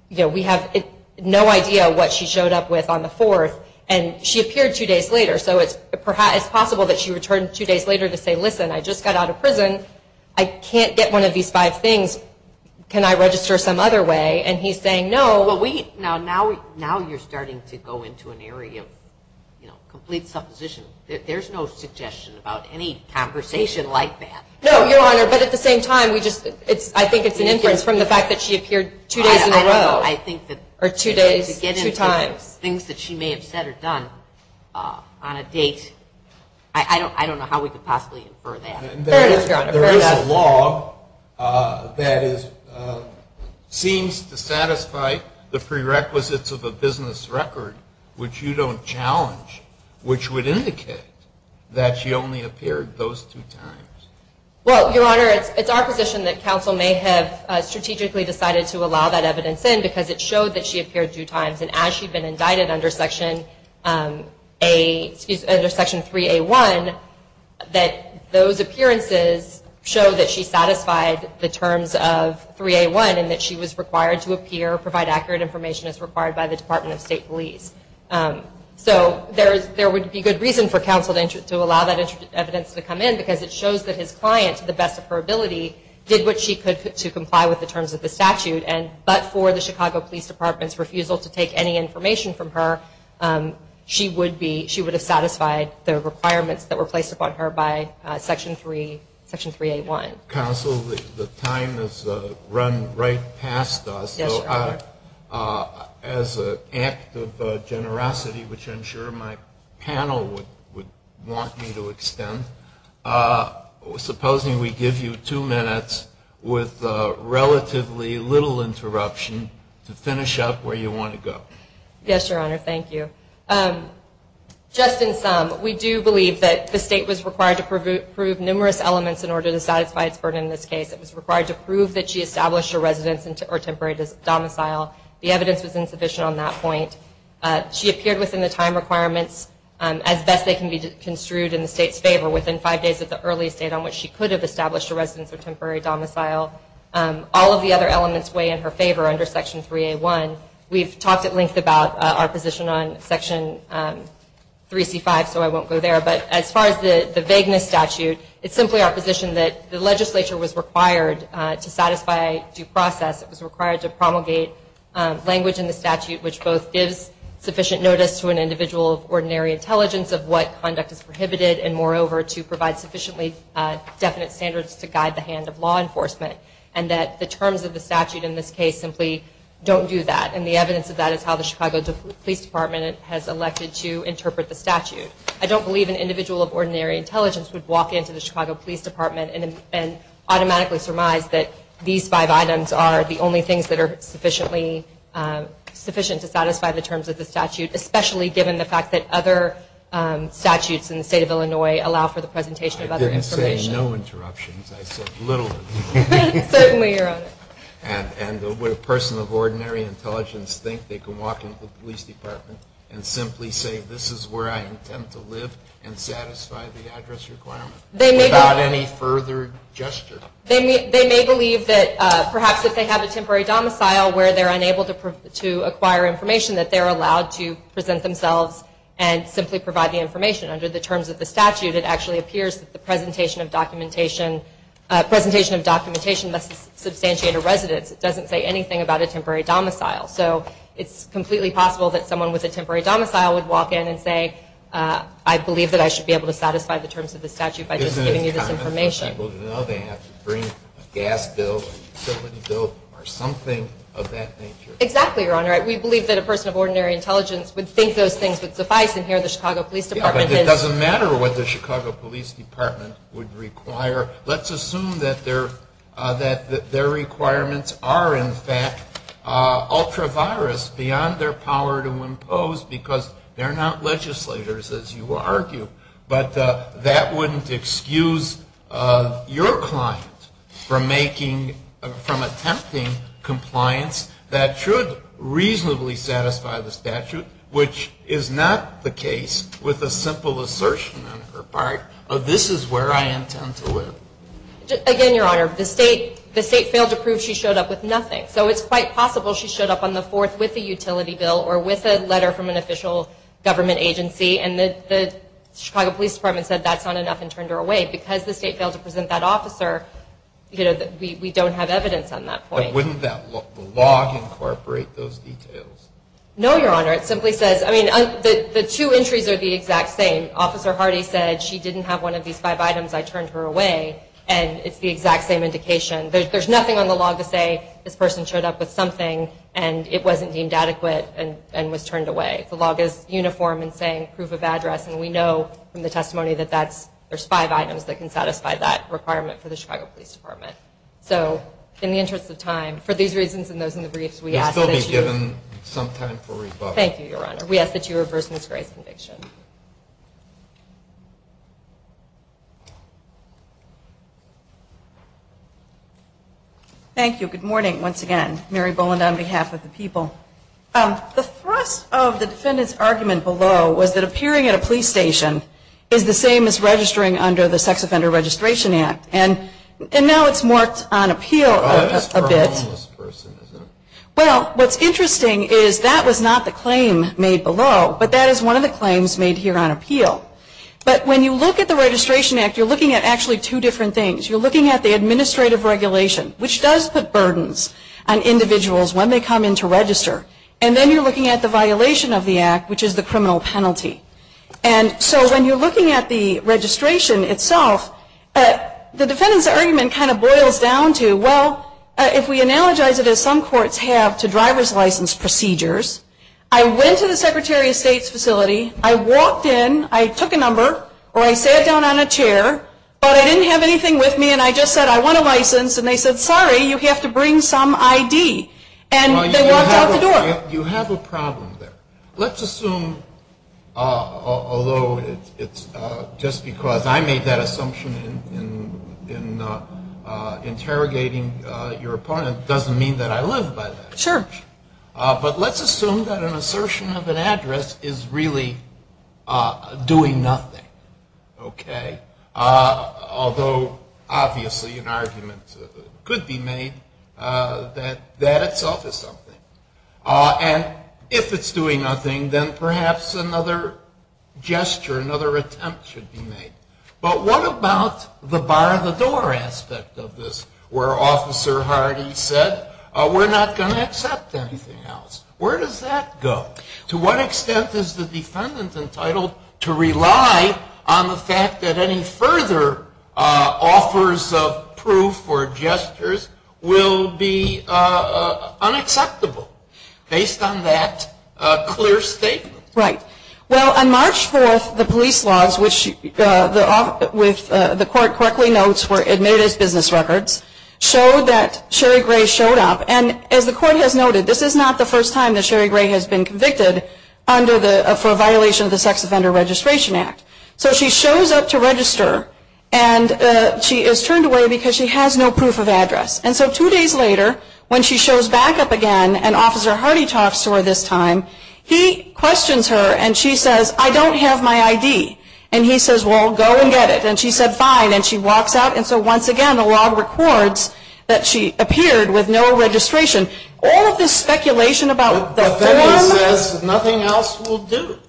we have no idea what she showed up with on the 4th, and she appeared two days later, so it's possible that she returned two days later to say, listen, I just got out of prison, I can't get one of these five things, can I register some other way? And he's saying no. Now you're starting to go into an area of complete supposition. There's no suggestion about any conversation like that. No, Your Honor, but at the same time, I think it's an inference from the fact that she appeared two days in a row. I think that to get into things that she may have said or done on a date, I don't know how we could possibly infer that. There is a law that seems to satisfy the prerequisites of a business record, which you don't challenge, which would indicate that she only appeared those two times. Well, Your Honor, it's our position that counsel may have strategically decided to allow that evidence in because it showed that she appeared two times, and as she'd been indicted under Section 3A1, that those appearances show that she satisfied the terms of 3A1 and that she was required to appear, provide accurate information as required by the Department of State Police. So there would be good reason for counsel to allow that evidence to come in because it shows that his client, to the best of her ability, did what she could to comply with the terms of the statute. But for the Chicago Police Department's refusal to take any information from her, she would have satisfied the requirements that were placed upon her by Section 3A1. Counsel, the time has run right past us. So as an act of generosity, which I'm sure my panel would want me to extend, supposing we give you two minutes with relatively little interruption to finish up where you want to go. Yes, Your Honor. Thank you. Just in sum, we do believe that the state was required to prove numerous elements in order to satisfy its burden in this case. It was required to prove that she established a residence or temporary domicile. The evidence was insufficient on that point. She appeared within the time requirements as best they can be construed in the state's favor within five days of the earliest date on which she could have established a residence or temporary domicile. All of the other elements weigh in her favor under Section 3A1. We've talked at length about our position on Section 3C5, so I won't go there. But as far as the vagueness statute, it's simply our position that the legislature was required to satisfy due process. It was required to promulgate language in the statute which both gives sufficient notice to an individual's ordinary intelligence of what conduct is prohibited and, moreover, to provide sufficiently definite standards to guide the hand of law enforcement and that the terms of the statute in this case simply don't do that. And the evidence of that is how the Chicago Police Department has elected to interpret the statute. I don't believe an individual of ordinary intelligence would walk into the Chicago Police Department and automatically surmise that these five items are the only things that are sufficient to satisfy the terms of the statute, especially given the fact that other statutes in the state of Illinois allow for the presentation of other information. I didn't say no interruptions. I said little. Certainly, Your Honor. And would a person of ordinary intelligence think they can walk into the police department and simply say this is where I intend to live and satisfy the address requirement without any further gesture? They may believe that perhaps if they have a temporary domicile where they're unable to acquire information that they're allowed to present themselves and simply provide the information under the terms of the statute. It actually appears that the presentation of documentation must substantiate a residence. It doesn't say anything about a temporary domicile. So it's completely possible that someone with a temporary domicile would walk in and say, I believe that I should be able to satisfy the terms of the statute by just giving you this information. They have to bring a gas bill or something of that nature. Exactly, Your Honor. We believe that a person of ordinary intelligence would think those things would suffice and hear the Chicago Police Department. It doesn't matter what the Chicago Police Department would require. Let's assume that their requirements are, in fact, ultra-virus beyond their power to impose because they're not legislators, as you argued. But that wouldn't excuse your client from attempting compliance that should reasonably satisfy the statute, which is not the case with a simple assertion on her part of this is where I intend to live. Again, Your Honor, the state failed to prove she showed up with nothing. So it's quite possible she showed up on the 4th with a utility bill or with a letter from an official government agency and the Chicago Police Department said that's not enough and turned her away. Because the state failed to present that officer, we don't have evidence on that point. But wouldn't the law incorporate those details? No, Your Honor. It simply says, I mean, the two entries are the exact same. Officer Hardy said she didn't have one of these five items. I turned her away and it's the exact same indication. There's nothing on the law to say this person showed up with something and it wasn't deemed adequate and was turned away. The law goes uniform in saying proof of address and we know from the testimony that there's five items that can satisfy that requirement for the Chicago Police Department. So in the interest of time, for these reasons and those in the briefs, we ask that you... They'll be given some time for rebuttal. Thank you, Your Honor. We ask that you reverse Ms. Gray's conviction. Thank you. Good morning once again. Mary Bowen on behalf of the people. The thrust of the defendant's argument below was that appearing at a police station is the same as registering under the Sex Offender Registration Act. And now it's marked on appeal a bit. Well, what's interesting is that was not the claim made below, but that is one of the claims made here on appeal. But when you look at the Registration Act, you're looking at actually two different things. You're looking at the administrative regulation, which does put burdens on individuals when they come in to register. And then you're looking at the violation of the act, which is the criminal penalty. And so when you're looking at the registration itself, the defendant's argument kind of boils down to, well, if we analogize it as some courts have to driver's license procedures, I went to the Secretary of State's facility, I walked in, I took a number, or I sat down on a chair, but I didn't have anything with me, and I just said I want a license, and they said, sorry, you have to bring some ID, and they walked out the door. You have a problem there. Let's assume, although it's just because I made that assumption in interrogating your opponent, it doesn't mean that I live by that assumption. But let's assume that an assertion of an address is really doing nothing. Although, obviously, an argument could be made that that itself is something. And if it's doing nothing, then perhaps another gesture, another attempt should be made. But what about the bar the door aspect of this, where Officer Hardy said, we're not going to accept anything else. Where does that go? To what extent is the defendant entitled to rely on the fact that any further offers of proof or gestures will be unacceptable based on that clear statement? Right. Well, on March 4th, the police logs, which the court quickly notes were admitted as business records, show that Sherry Gray showed up, and as the court has noted, this is not the first time that Sherry Gray has been convicted for a violation of the Sex Offender Registration Act. So she shows up to register, and she is turned away because she has no proof of address. And so two days later, when she shows back up again, and Officer Hardy talks to her this time, he questions her, and she says, I don't have my ID. And he says, well, go and get it. And she said, fine, and she walks out. And so once again, the law records that she appeared with no registration. All of this speculation about the form. The defendant says nothing else will do.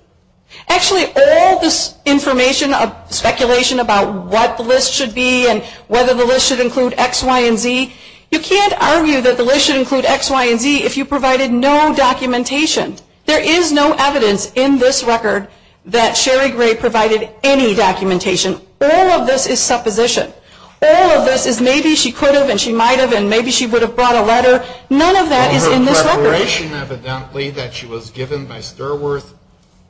Actually, all this information of speculation about what the list should be and whether the list should include X, Y, and Z, you can't argue that the list should include X, Y, and Z if you provided no documentation. There is no evidence in this record that Sherry Gray provided any documentation. All of this is supposition. All of this is maybe she could have and she might have and maybe she would have brought a letter. And her declaration evidently that she was given by Sturworth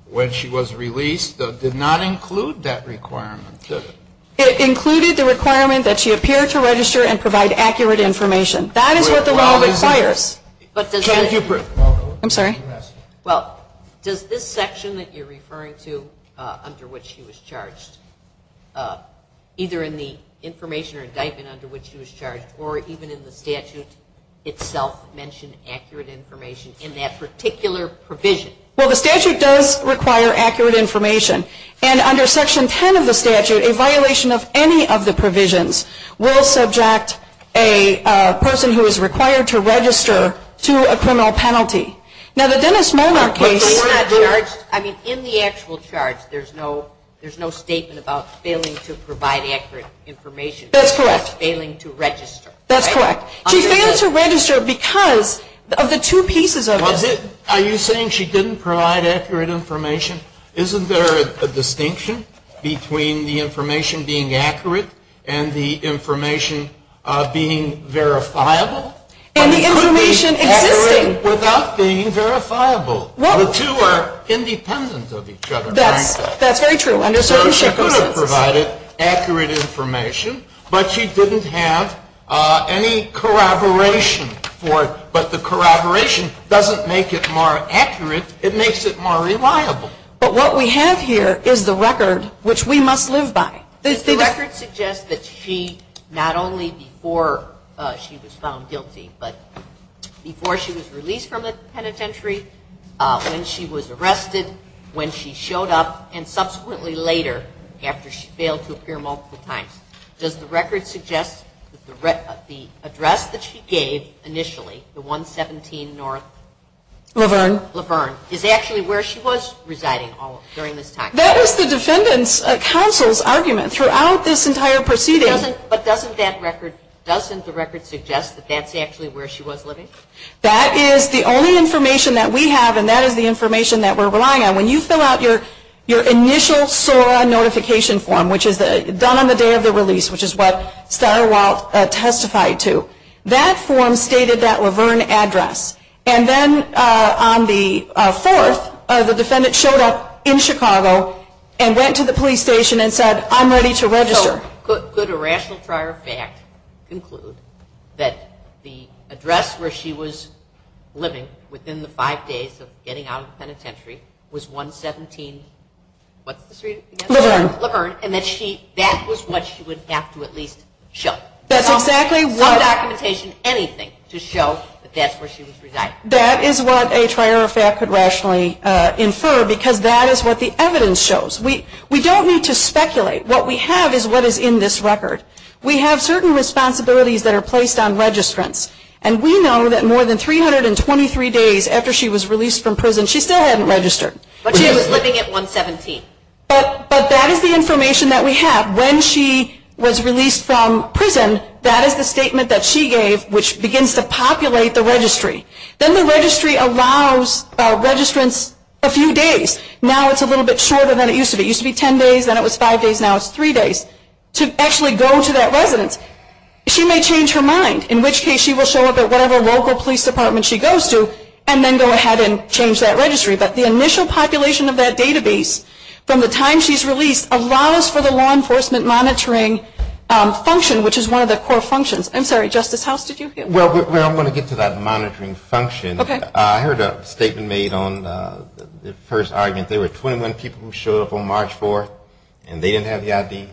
when she was released did not include that requirement, did it? It included the requirement that she appear to register and provide accurate information. That is what the law requires. I'm sorry? Well, does this section that you're referring to under which she was charged, either in the information or indictment under which she was charged or even in the statute itself mention accurate information in that particular provision? Well, the statute does require accurate information. And under Section 10 of the statute, a violation of any of the provisions will subject a person who is required to register to a criminal penalty. Now, the Dennis Monarch case is not charged. I mean, in the actual charge, there's no statement about failing to provide accurate information. That's correct. Failing to register. That's correct. She failed to register because of the two pieces of it. Are you saying she didn't provide accurate information? Isn't there a distinction between the information being accurate and the information being verifiable? And the information is accurate. Without being verifiable. The two are independent of each other. That's very true. So she could have provided accurate information, but she didn't have any corroboration for it. But the corroboration doesn't make it more accurate. It makes it more reliable. But what we have here is the record which we must live by. The record suggests that she, not only before she was found guilty, but before she was released from the penitentiary, when she was arrested, when she showed up, and subsequently later, after she failed to appear multiple times. Does the record suggest that the address that she gave initially, the 117 North Laverne, is actually where she was residing during this time? That is the defendant's counsel's argument throughout this entire proceeding. But doesn't that record suggest that that's actually where she was living? That is the only information that we have, and that is the information that we're relying on. When you fill out your initial SOAR notification form, which is done on the day of the release, which is what Sarah Welch testified to, that form stated that Laverne address. And then on the 4th, the defendant showed up in Chicago and went to the police station and said, I'm ready to register. So could a rational prior fact conclude that the address where she was living within the five days of getting out of the penitentiary was 117, what street? Laverne. Laverne, and that she, that was what she would have to at least show. That's exactly what. No documentation, anything, to show that that's where she was residing. That is what a prior fact could rationally infer, because that is what the evidence shows. We don't need to speculate. What we have is what is in this record. We have certain responsibilities that are placed on registrants, and we know that more than 323 days after she was released from prison, she still hadn't registered. But she was living at 117. But that is the information that we have. When she was released from prison, that is the statement that she gave, which begins to populate the registry. Then the registry allows registrants a few days. Now it's a little bit shorter than it used to be. It used to be ten days, then it was five days, now it's three days to actually go to that residence. She may change her mind, in which case she will show up at whatever local police department she goes to and then go ahead and change that registry. But the initial population of that database from the time she's released allows for the law enforcement monitoring function, which is one of the core functions. I'm sorry, Justice House, did you get? Well, I'm going to get to that monitoring function. Okay. I heard a statement made on the first argument. There were 21 people who showed up on March 4th, and they didn't have the ID.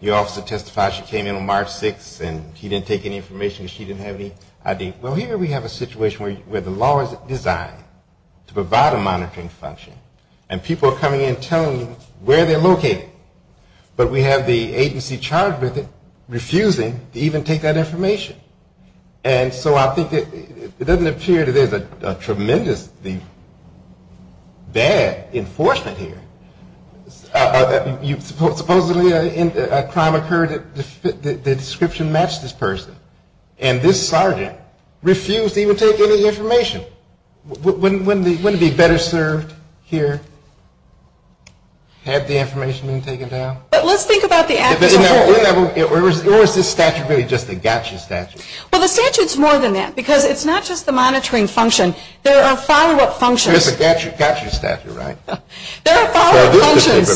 The officer testifies she came in on March 6th, and he didn't take any information, but she didn't have any ID. Well, here we have a situation where the law is designed to provide a monitoring function, and people are coming in and telling them where they're located. But we have the agency charged with it refusing to even take that information. And so I think it doesn't appear that there's a tremendous bad enforcement here. Supposedly a crime occurred that the description matched this person, and this sergeant refused to even take any information. Wouldn't he be better served here had the information been taken down? Let's think about the actual. Or is this statute really just a gotcha statute? Well, the statute's more than that, because it's not just the monitoring function. There are follow-up functions. There's a gotcha statute, right? There are follow-up functions.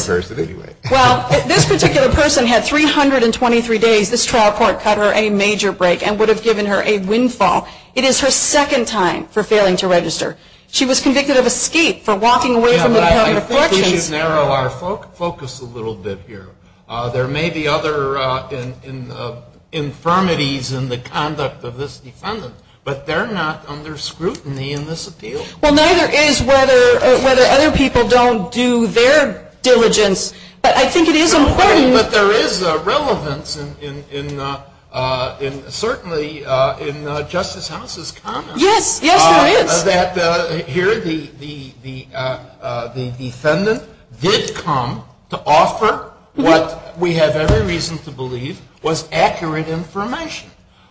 Well, this particular person had 323 days. This trial court got her a major break and would have given her a windfall. It is her second time for failing to register. She was convicted of escape for walking away from the prior floor change. I think we should narrow our focus a little bit here. There may be other infirmities in the conduct of this defendant, but they're not under scrutiny in this appeal. Well, neither is whether other people don't do their diligence. I think it is important. But there is relevance, certainly, in Justice House's comments. Yes, there is. Here the defendant did come to offer what we have every reason to believe was accurate information.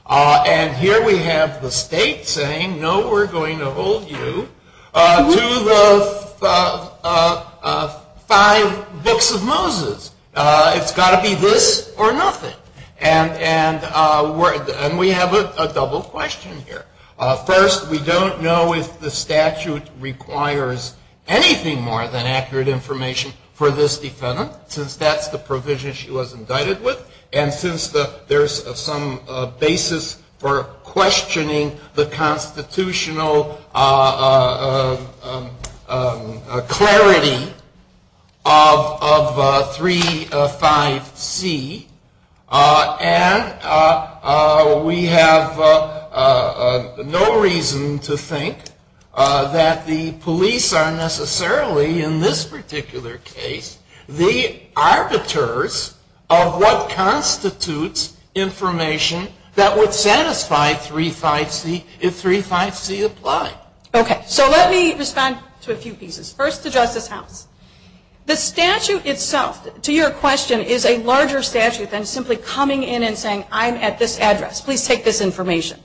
And here we have the state saying, no, we're going to hold you to the five books of Moses. It's got to be this or nothing. And we have a double question here. First, we don't know if the statute requires anything more than accurate information for this defendant, because that's the provision she was indicted with. And since there's some basis for questioning the constitutional clarity of 3.5c, and we have no reason to think that the police are necessarily, in this particular case, the arbiters of what constitutes information that would satisfy 3.5c if 3.5c applied. Okay. So let me respond to a few pieces. First, the Justice House. The statute itself, to your question, is a larger statute than simply coming in and saying, I'm at this address, please take this information.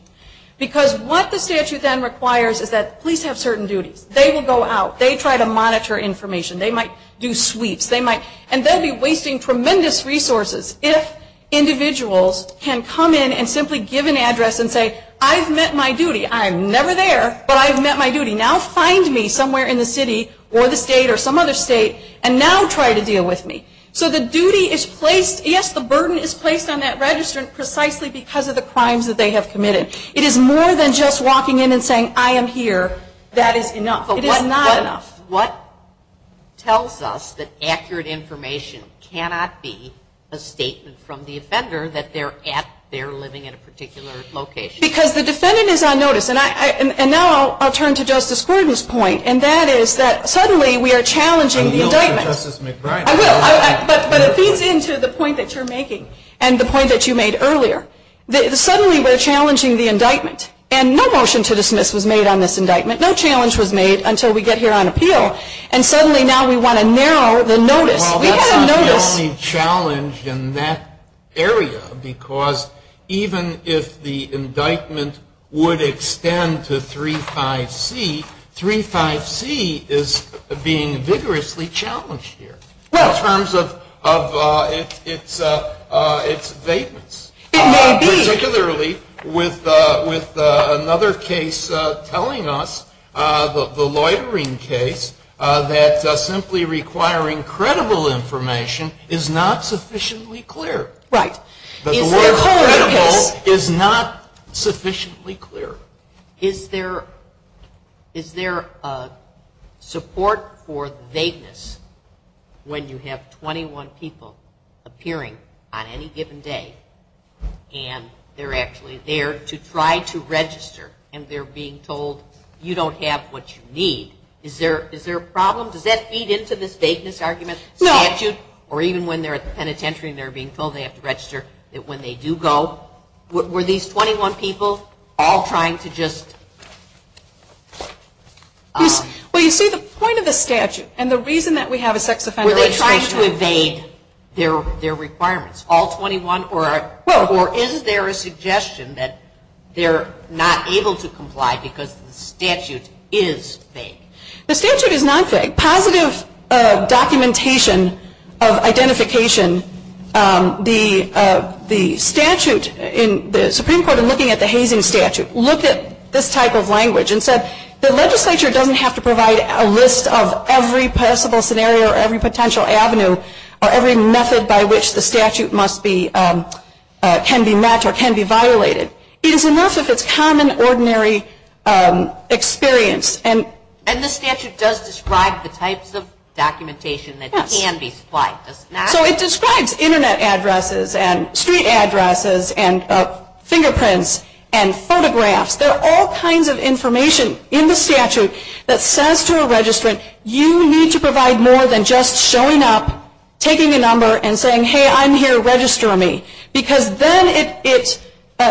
Because what the statute then requires is that police have certain duties. They will go out. They try to monitor information. They might do sweeps. And they'll be wasting tremendous resources if individuals can come in and simply give an address and say, I've met my duty. I'm never there, but I've met my duty. Now find me somewhere in the city or the state or some other state and now try to deal with me. So the duty is placed, yes, the burden is placed on that registrant precisely because of the crimes that they have committed. It is more than just walking in and saying, I am here. That is enough. It is not enough. What tells us that accurate information cannot be a statement from the offender that they're at, they're living in a particular location? Because the defendant is on notice. And now I'll turn to Justice Gordon's point, and that is that suddenly we are challenging the indictment. But it feeds into the point that you're making and the point that you made earlier. Suddenly we're challenging the indictment. And no motion to dismiss was made on this indictment. No challenge was made until we get here on appeal. And suddenly now we want to narrow the notice. We've got a notice. Well, that's the only challenge in that area because even if the indictment would extend to 35C, 35C is being vigorously challenged here in terms of its vagueness. Particularly with another case telling us, the loitering case, that simply requiring credible information is not sufficiently clear. Right. The word credible is not sufficiently clear. Is there support for vagueness when you have 21 people appearing on any given day and they're actually there to try to register and they're being told you don't have what you need? Is there a problem? Does that feed into this vagueness argument? No. Or even when they're at the penitentiary and they're being told they have to register, that when they do go, were these 21 people all trying to just? Well, you see the point of the statute and the reason that we have a sex offender. Were they trying to evade their requirements, all 21? Or is there a suggestion that they're not able to comply because the statute is vague? The statute is not vague. In positive documentation of identification, the statute, the Supreme Court in looking at the Hazen statute looked at this type of language and said the legislature doesn't have to provide a list of every possible scenario or every potential avenue or every method by which the statute can be met or can be violated. It is enough if it's common, ordinary experience. And the statute does describe the types of documentation that can be supplied. So it describes Internet addresses and street addresses and fingerprints and photographs. There are all kinds of information in the statute that says to a registrant, you need to provide more than just showing up, taking your number and saying, hey, I'm here, register me. Because then it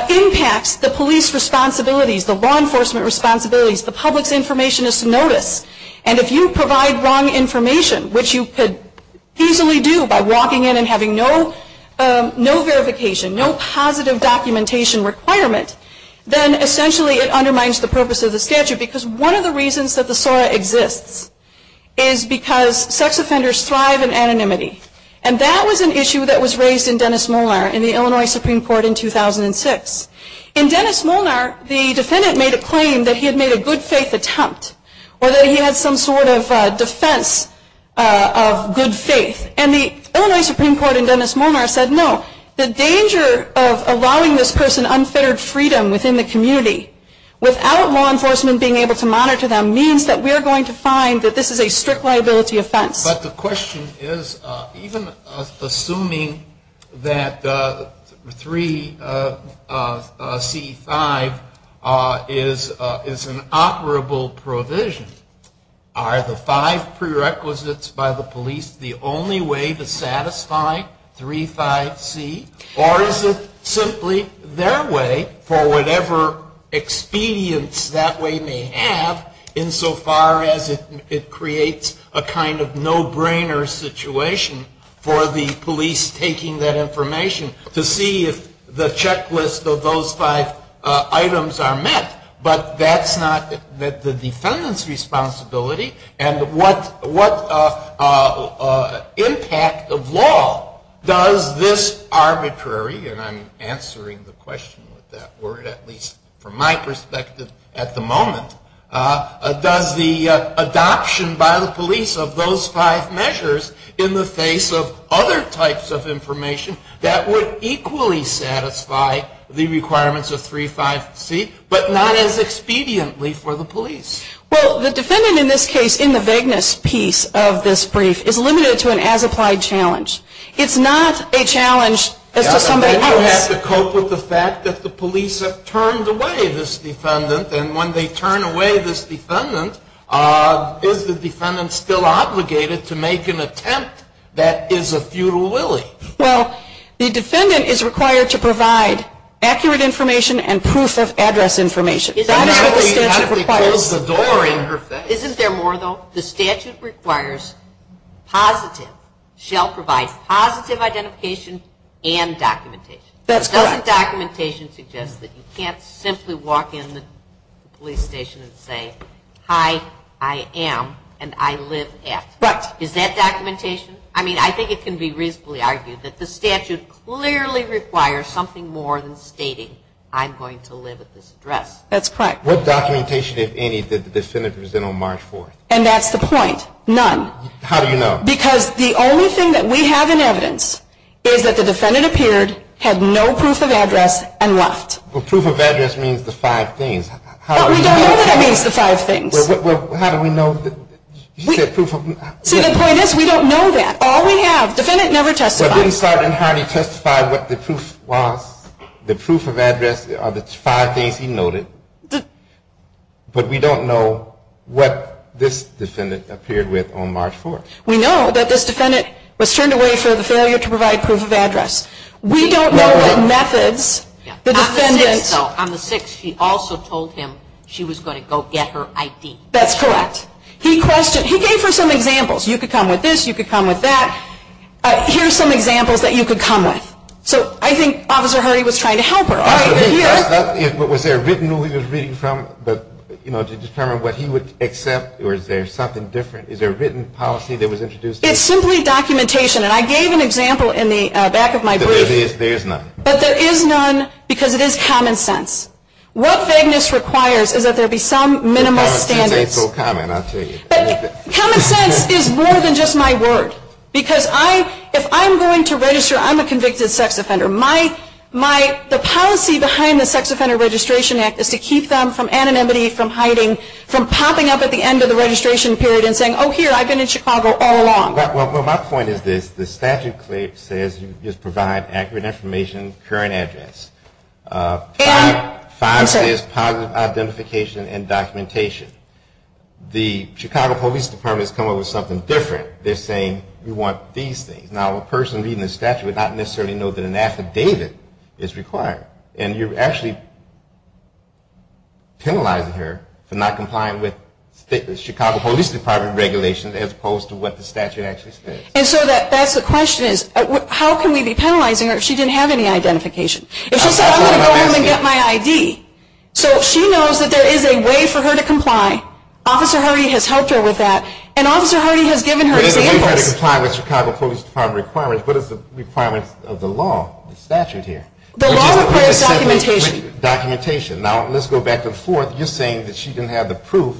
impacts the police responsibilities, the law enforcement responsibilities, the public information is to notice. And if you provide wrong information, which you could easily do by walking in and having no verification, no positive documentation requirement, then essentially it undermines the purpose of the statute. Because one of the reasons that the SORA exists is because sex offenders thrive in anonymity. And that was an issue that was raised in Dennis Molnar in the Illinois Supreme Court in 2006. In Dennis Molnar, the defendant made a claim that he had made a good faith attempt or that he had some sort of defense of good faith. And the Illinois Supreme Court in Dennis Molnar said, no, the danger of allowing this person unfettered freedom within the community without law enforcement being able to monitor them means that we are going to find that this is a strict liability offense. But the question is, even assuming that 3C-5 is an operable provision, are the five prerequisites by the police the only way to satisfy 3-5-C? Or is it simply their way for whatever expedience that way may have, insofar as it creates a kind of no-brainer situation for the police taking that information to see if the checklist of those five items are met. But that's not the defendant's responsibility. And what impact of law does this arbitrary, and I'm answering the question with that word, at least from my perspective at the moment, does the adoption by the police of those five measures in the face of other types of information that would equally satisfy the requirements of 3-5-C, but not as expediently for the police? Well, the defendant in this case, in the vagueness piece of this brief, is limited to an as-applied challenge. It's not a challenge. You have to cope with the fact that the police have turned away this defendant, and when they turn away this defendant, is the defendant still obligated to make an attempt that is a feudal lily? Well, the defendant is required to provide accurate information and proof of address information. Isn't there more though? The statute requires positive, shall provide positive identification and documentation. Doesn't documentation suggest that you can't simply walk in the police station and say, hi, I am, and I live at. Is that documentation? I mean, I think it can be reasonably argued that the statute clearly requires something more than stating I'm going to live at this address. That's correct. What documentation, if any, did the defendant present on March 4th? And that's the point, none. How do you know? Because the only thing that we have in evidence is that the defendant appeared, had no proof of address, and left. Well, proof of address means the five things. That means the five things. Well, how do we know? To be honest, we don't know that. All we have, the defendant never testified. We didn't start on how to testify, what the proof was, the proof of address, or the five things he noted. But we don't know what this defendant appeared with on March 4th. We know that this defendant was turned away for the failure to provide proof of address. We don't know the methods. On the 6th, he also told him she was going to go get her ID. That's correct. He gave her some examples. You could come with this, you could come with that. Here are some examples that you could come with. So I think Officer Hardy was trying to help her. Was there a written ruling to determine what he would accept, or is there something different? Is there a written policy that was introduced? It's simply documentation. And I gave an example in the back of my brief. There is none. But there is none because it is common sense. What vagueness requires is that there be some minimal standard. Common sense ain't so common, I'll tell you. But common sense is more than just my word. Because if I'm going to register, I'm a convicted sex offender. The policy behind the Sex Offender Registration Act is to keep them from anonymity, from hiding, from popping up at the end of the registration period and saying, oh, here, I've been in Chicago all along. Well, my point is this. The statute says you just provide accurate information, current address. Finally, there's positive identification and documentation. The Chicago Police Department has come up with something different. They're saying you want these things. Now, a person reading the statute would not necessarily know that an affidavit is required. And you're actually penalizing her for not complying with Chicago Police Department regulations as opposed to what the statute actually says. And so that's the question is, how can we be penalizing her if she didn't have any identification? If she said, I'm going to go home and get my ID. So she knows that there is a way for her to comply. Officer Hardy has helped her with that. And Officer Hardy has given her a date. We're trying to comply with Chicago Police Department requirements, but it's a requirement of the law, the statute here. The law requires documentation. Documentation. Now, let's go back and forth. You're saying that she didn't have the proof.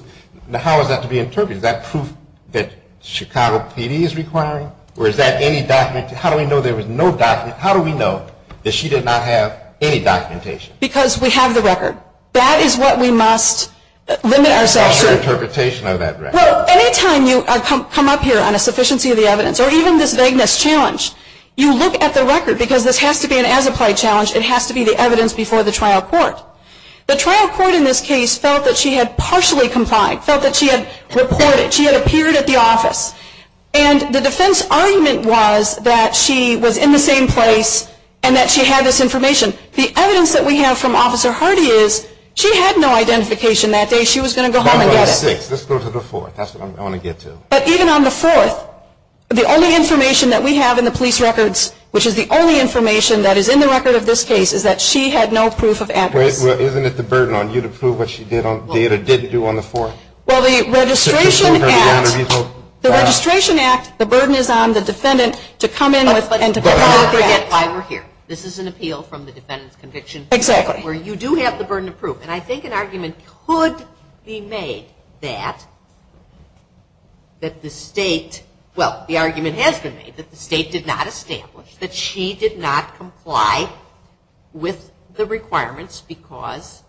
Now, how is that to be interpreted? Is that proof that Chicago PD is requiring, or is that any documentation? How do we know there was no documentation? How do we know that she did not have any documentation? Because we have the record. That is what we must limit ourselves to. What's the interpretation of that record? Well, any time you come up here on a sufficiency of the evidence, or even this vagueness challenge, you look at the record. Because this has to be an as-applied challenge. It has to be the evidence before the trial court. The trial court in this case felt that she had partially complied, felt that she had reported, she had appeared at the office. And the defense argument was that she was in the same place and that she had this information. The evidence that we have from Officer Hardy is she had no identification that day. She was going to go home and get it. Let's go to the fourth. That's what I want to get to. But even on the fourth, the only information that we have in the police records, which is the only information that is in the record of this case, is that she had no proof of access. Isn't it the burden on you to prove what she did or didn't do on the fourth? Well, the Registration Act, the burden is on the defendant to come in and to prove it. That's why we're here. This is an appeal from the defendant's conviction. Exactly. Where you do have the burden of proof. And I think an argument could be made that the state, well, the argument has been made, that the state did not establish that she did not comply with the requirements because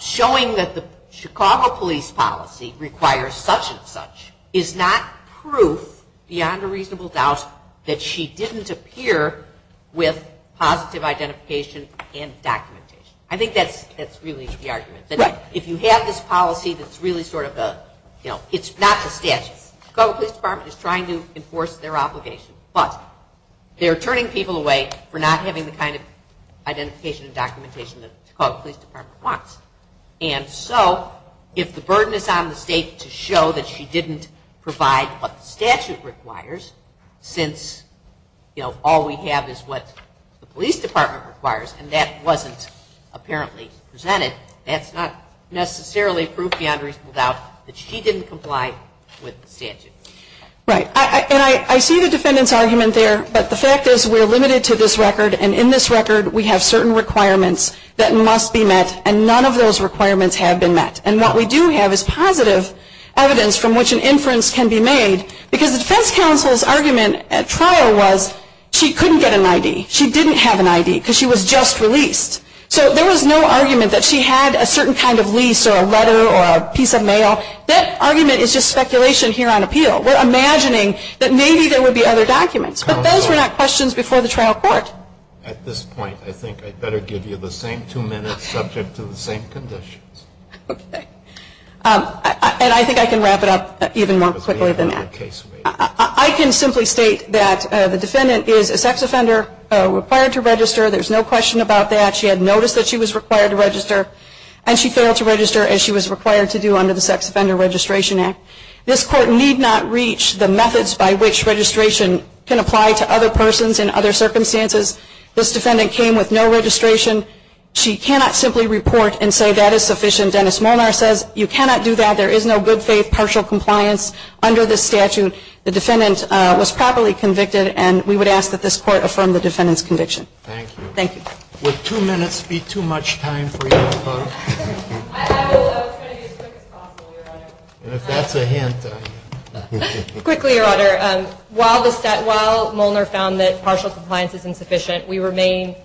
showing that the Chicago police policy requires such and such is not proof beyond a reasonable doubt that she didn't appear with positive identification and documentation. I think that's really the argument. If you have this policy, it's really sort of a, you know, it's not the statute. The Chicago Police Department is trying to enforce their obligation. They're turning people away for not having the kind of identification and documentation that the Chicago Police Department wants. And so, if the burden is on the state to show that she didn't provide what the statute requires, since, you know, all we have is what the police department requires, and that wasn't apparently presented, that's not necessarily proof beyond a reasonable doubt that she didn't comply with the statute. Right. And I see the defendant's argument there, but the fact is we're limited to this record, and in this record we have certain requirements that must be met, and none of those requirements have been met. And what we do have is positive evidence from which an inference can be made, because the defense counsel's argument at trial was she couldn't get an ID. She didn't have an ID because she was just released. So there was no argument that she had a certain kind of lease or a letter or a piece of mail. So that argument is just speculation here on appeal. We're imagining that maybe there would be other documents. But those were not questions before the trial court. At this point, I think I'd better give you the same two minutes subject to the same conditions. And I think I can wrap it up even more quickly than that. I can simply state that the defendant is a sex offender required to register. There's no question about that. She had notice that she was required to register, and she failed to register as she was required to do under the Sex Offender Registration Act. This court need not reach the methods by which registration can apply to other persons in other circumstances. This defendant came with no registration. She cannot simply report and say that is sufficient. Dennis Molnar says you cannot do that. There is no good, safe, partial compliance under this statute. The defendant was properly convicted, and we would ask that this court affirm the defendant's conviction. Thank you. Thank you. Would two minutes be too much time for you to talk? I have a little. I'll try to be as quick as possible, Your Honor. And if that's a hint, I appreciate it. Quickly, Your Honor, while Molnar found that partial compliance is insufficient, we remain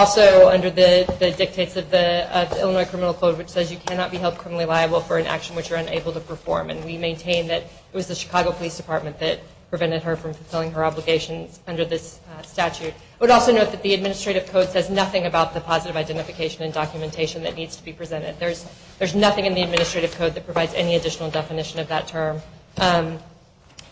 also under the dictates of the Illinois Criminal Code, which says you cannot be held criminally liable for an action which you're unable to perform. And we maintain that it was the Chicago Police Department that prevented her from fulfilling her obligation under this statute. I would also note that the Administrative Code says nothing about the positive identification and documentation that needs to be presented. There's nothing in the Administrative Code that provides any additional definition of that term.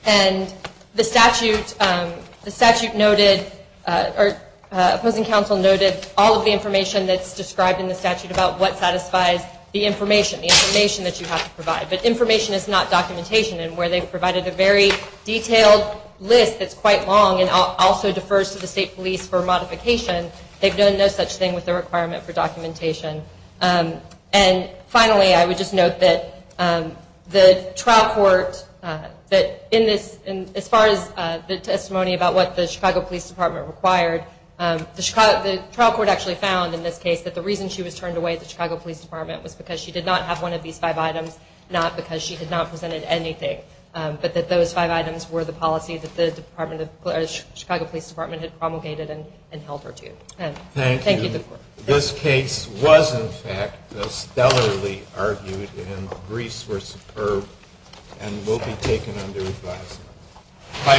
And the statute noted, or opposing counsel noted, all of the information that's described in the statute about what satisfies the information, the information that you have to provide. But information is not documentation, and where they've provided a very detailed list that's quite long and also defers to the state police for modification, they've done no such thing with the requirement for documentation. And finally, I would just note that the trial court, as far as the testimony about what the Chicago Police Department required, the trial court actually found, in this case, that the reason she was turned away at the Chicago Police Department was because she did not have one of these five items, not because she had not presented anything, but that those five items were the policy that the Chicago Police Department had promulgated and held her to. Thank you. This case was, in fact, so stellarly argued, and the briefs were superb, and will be taken under review. Bye folks.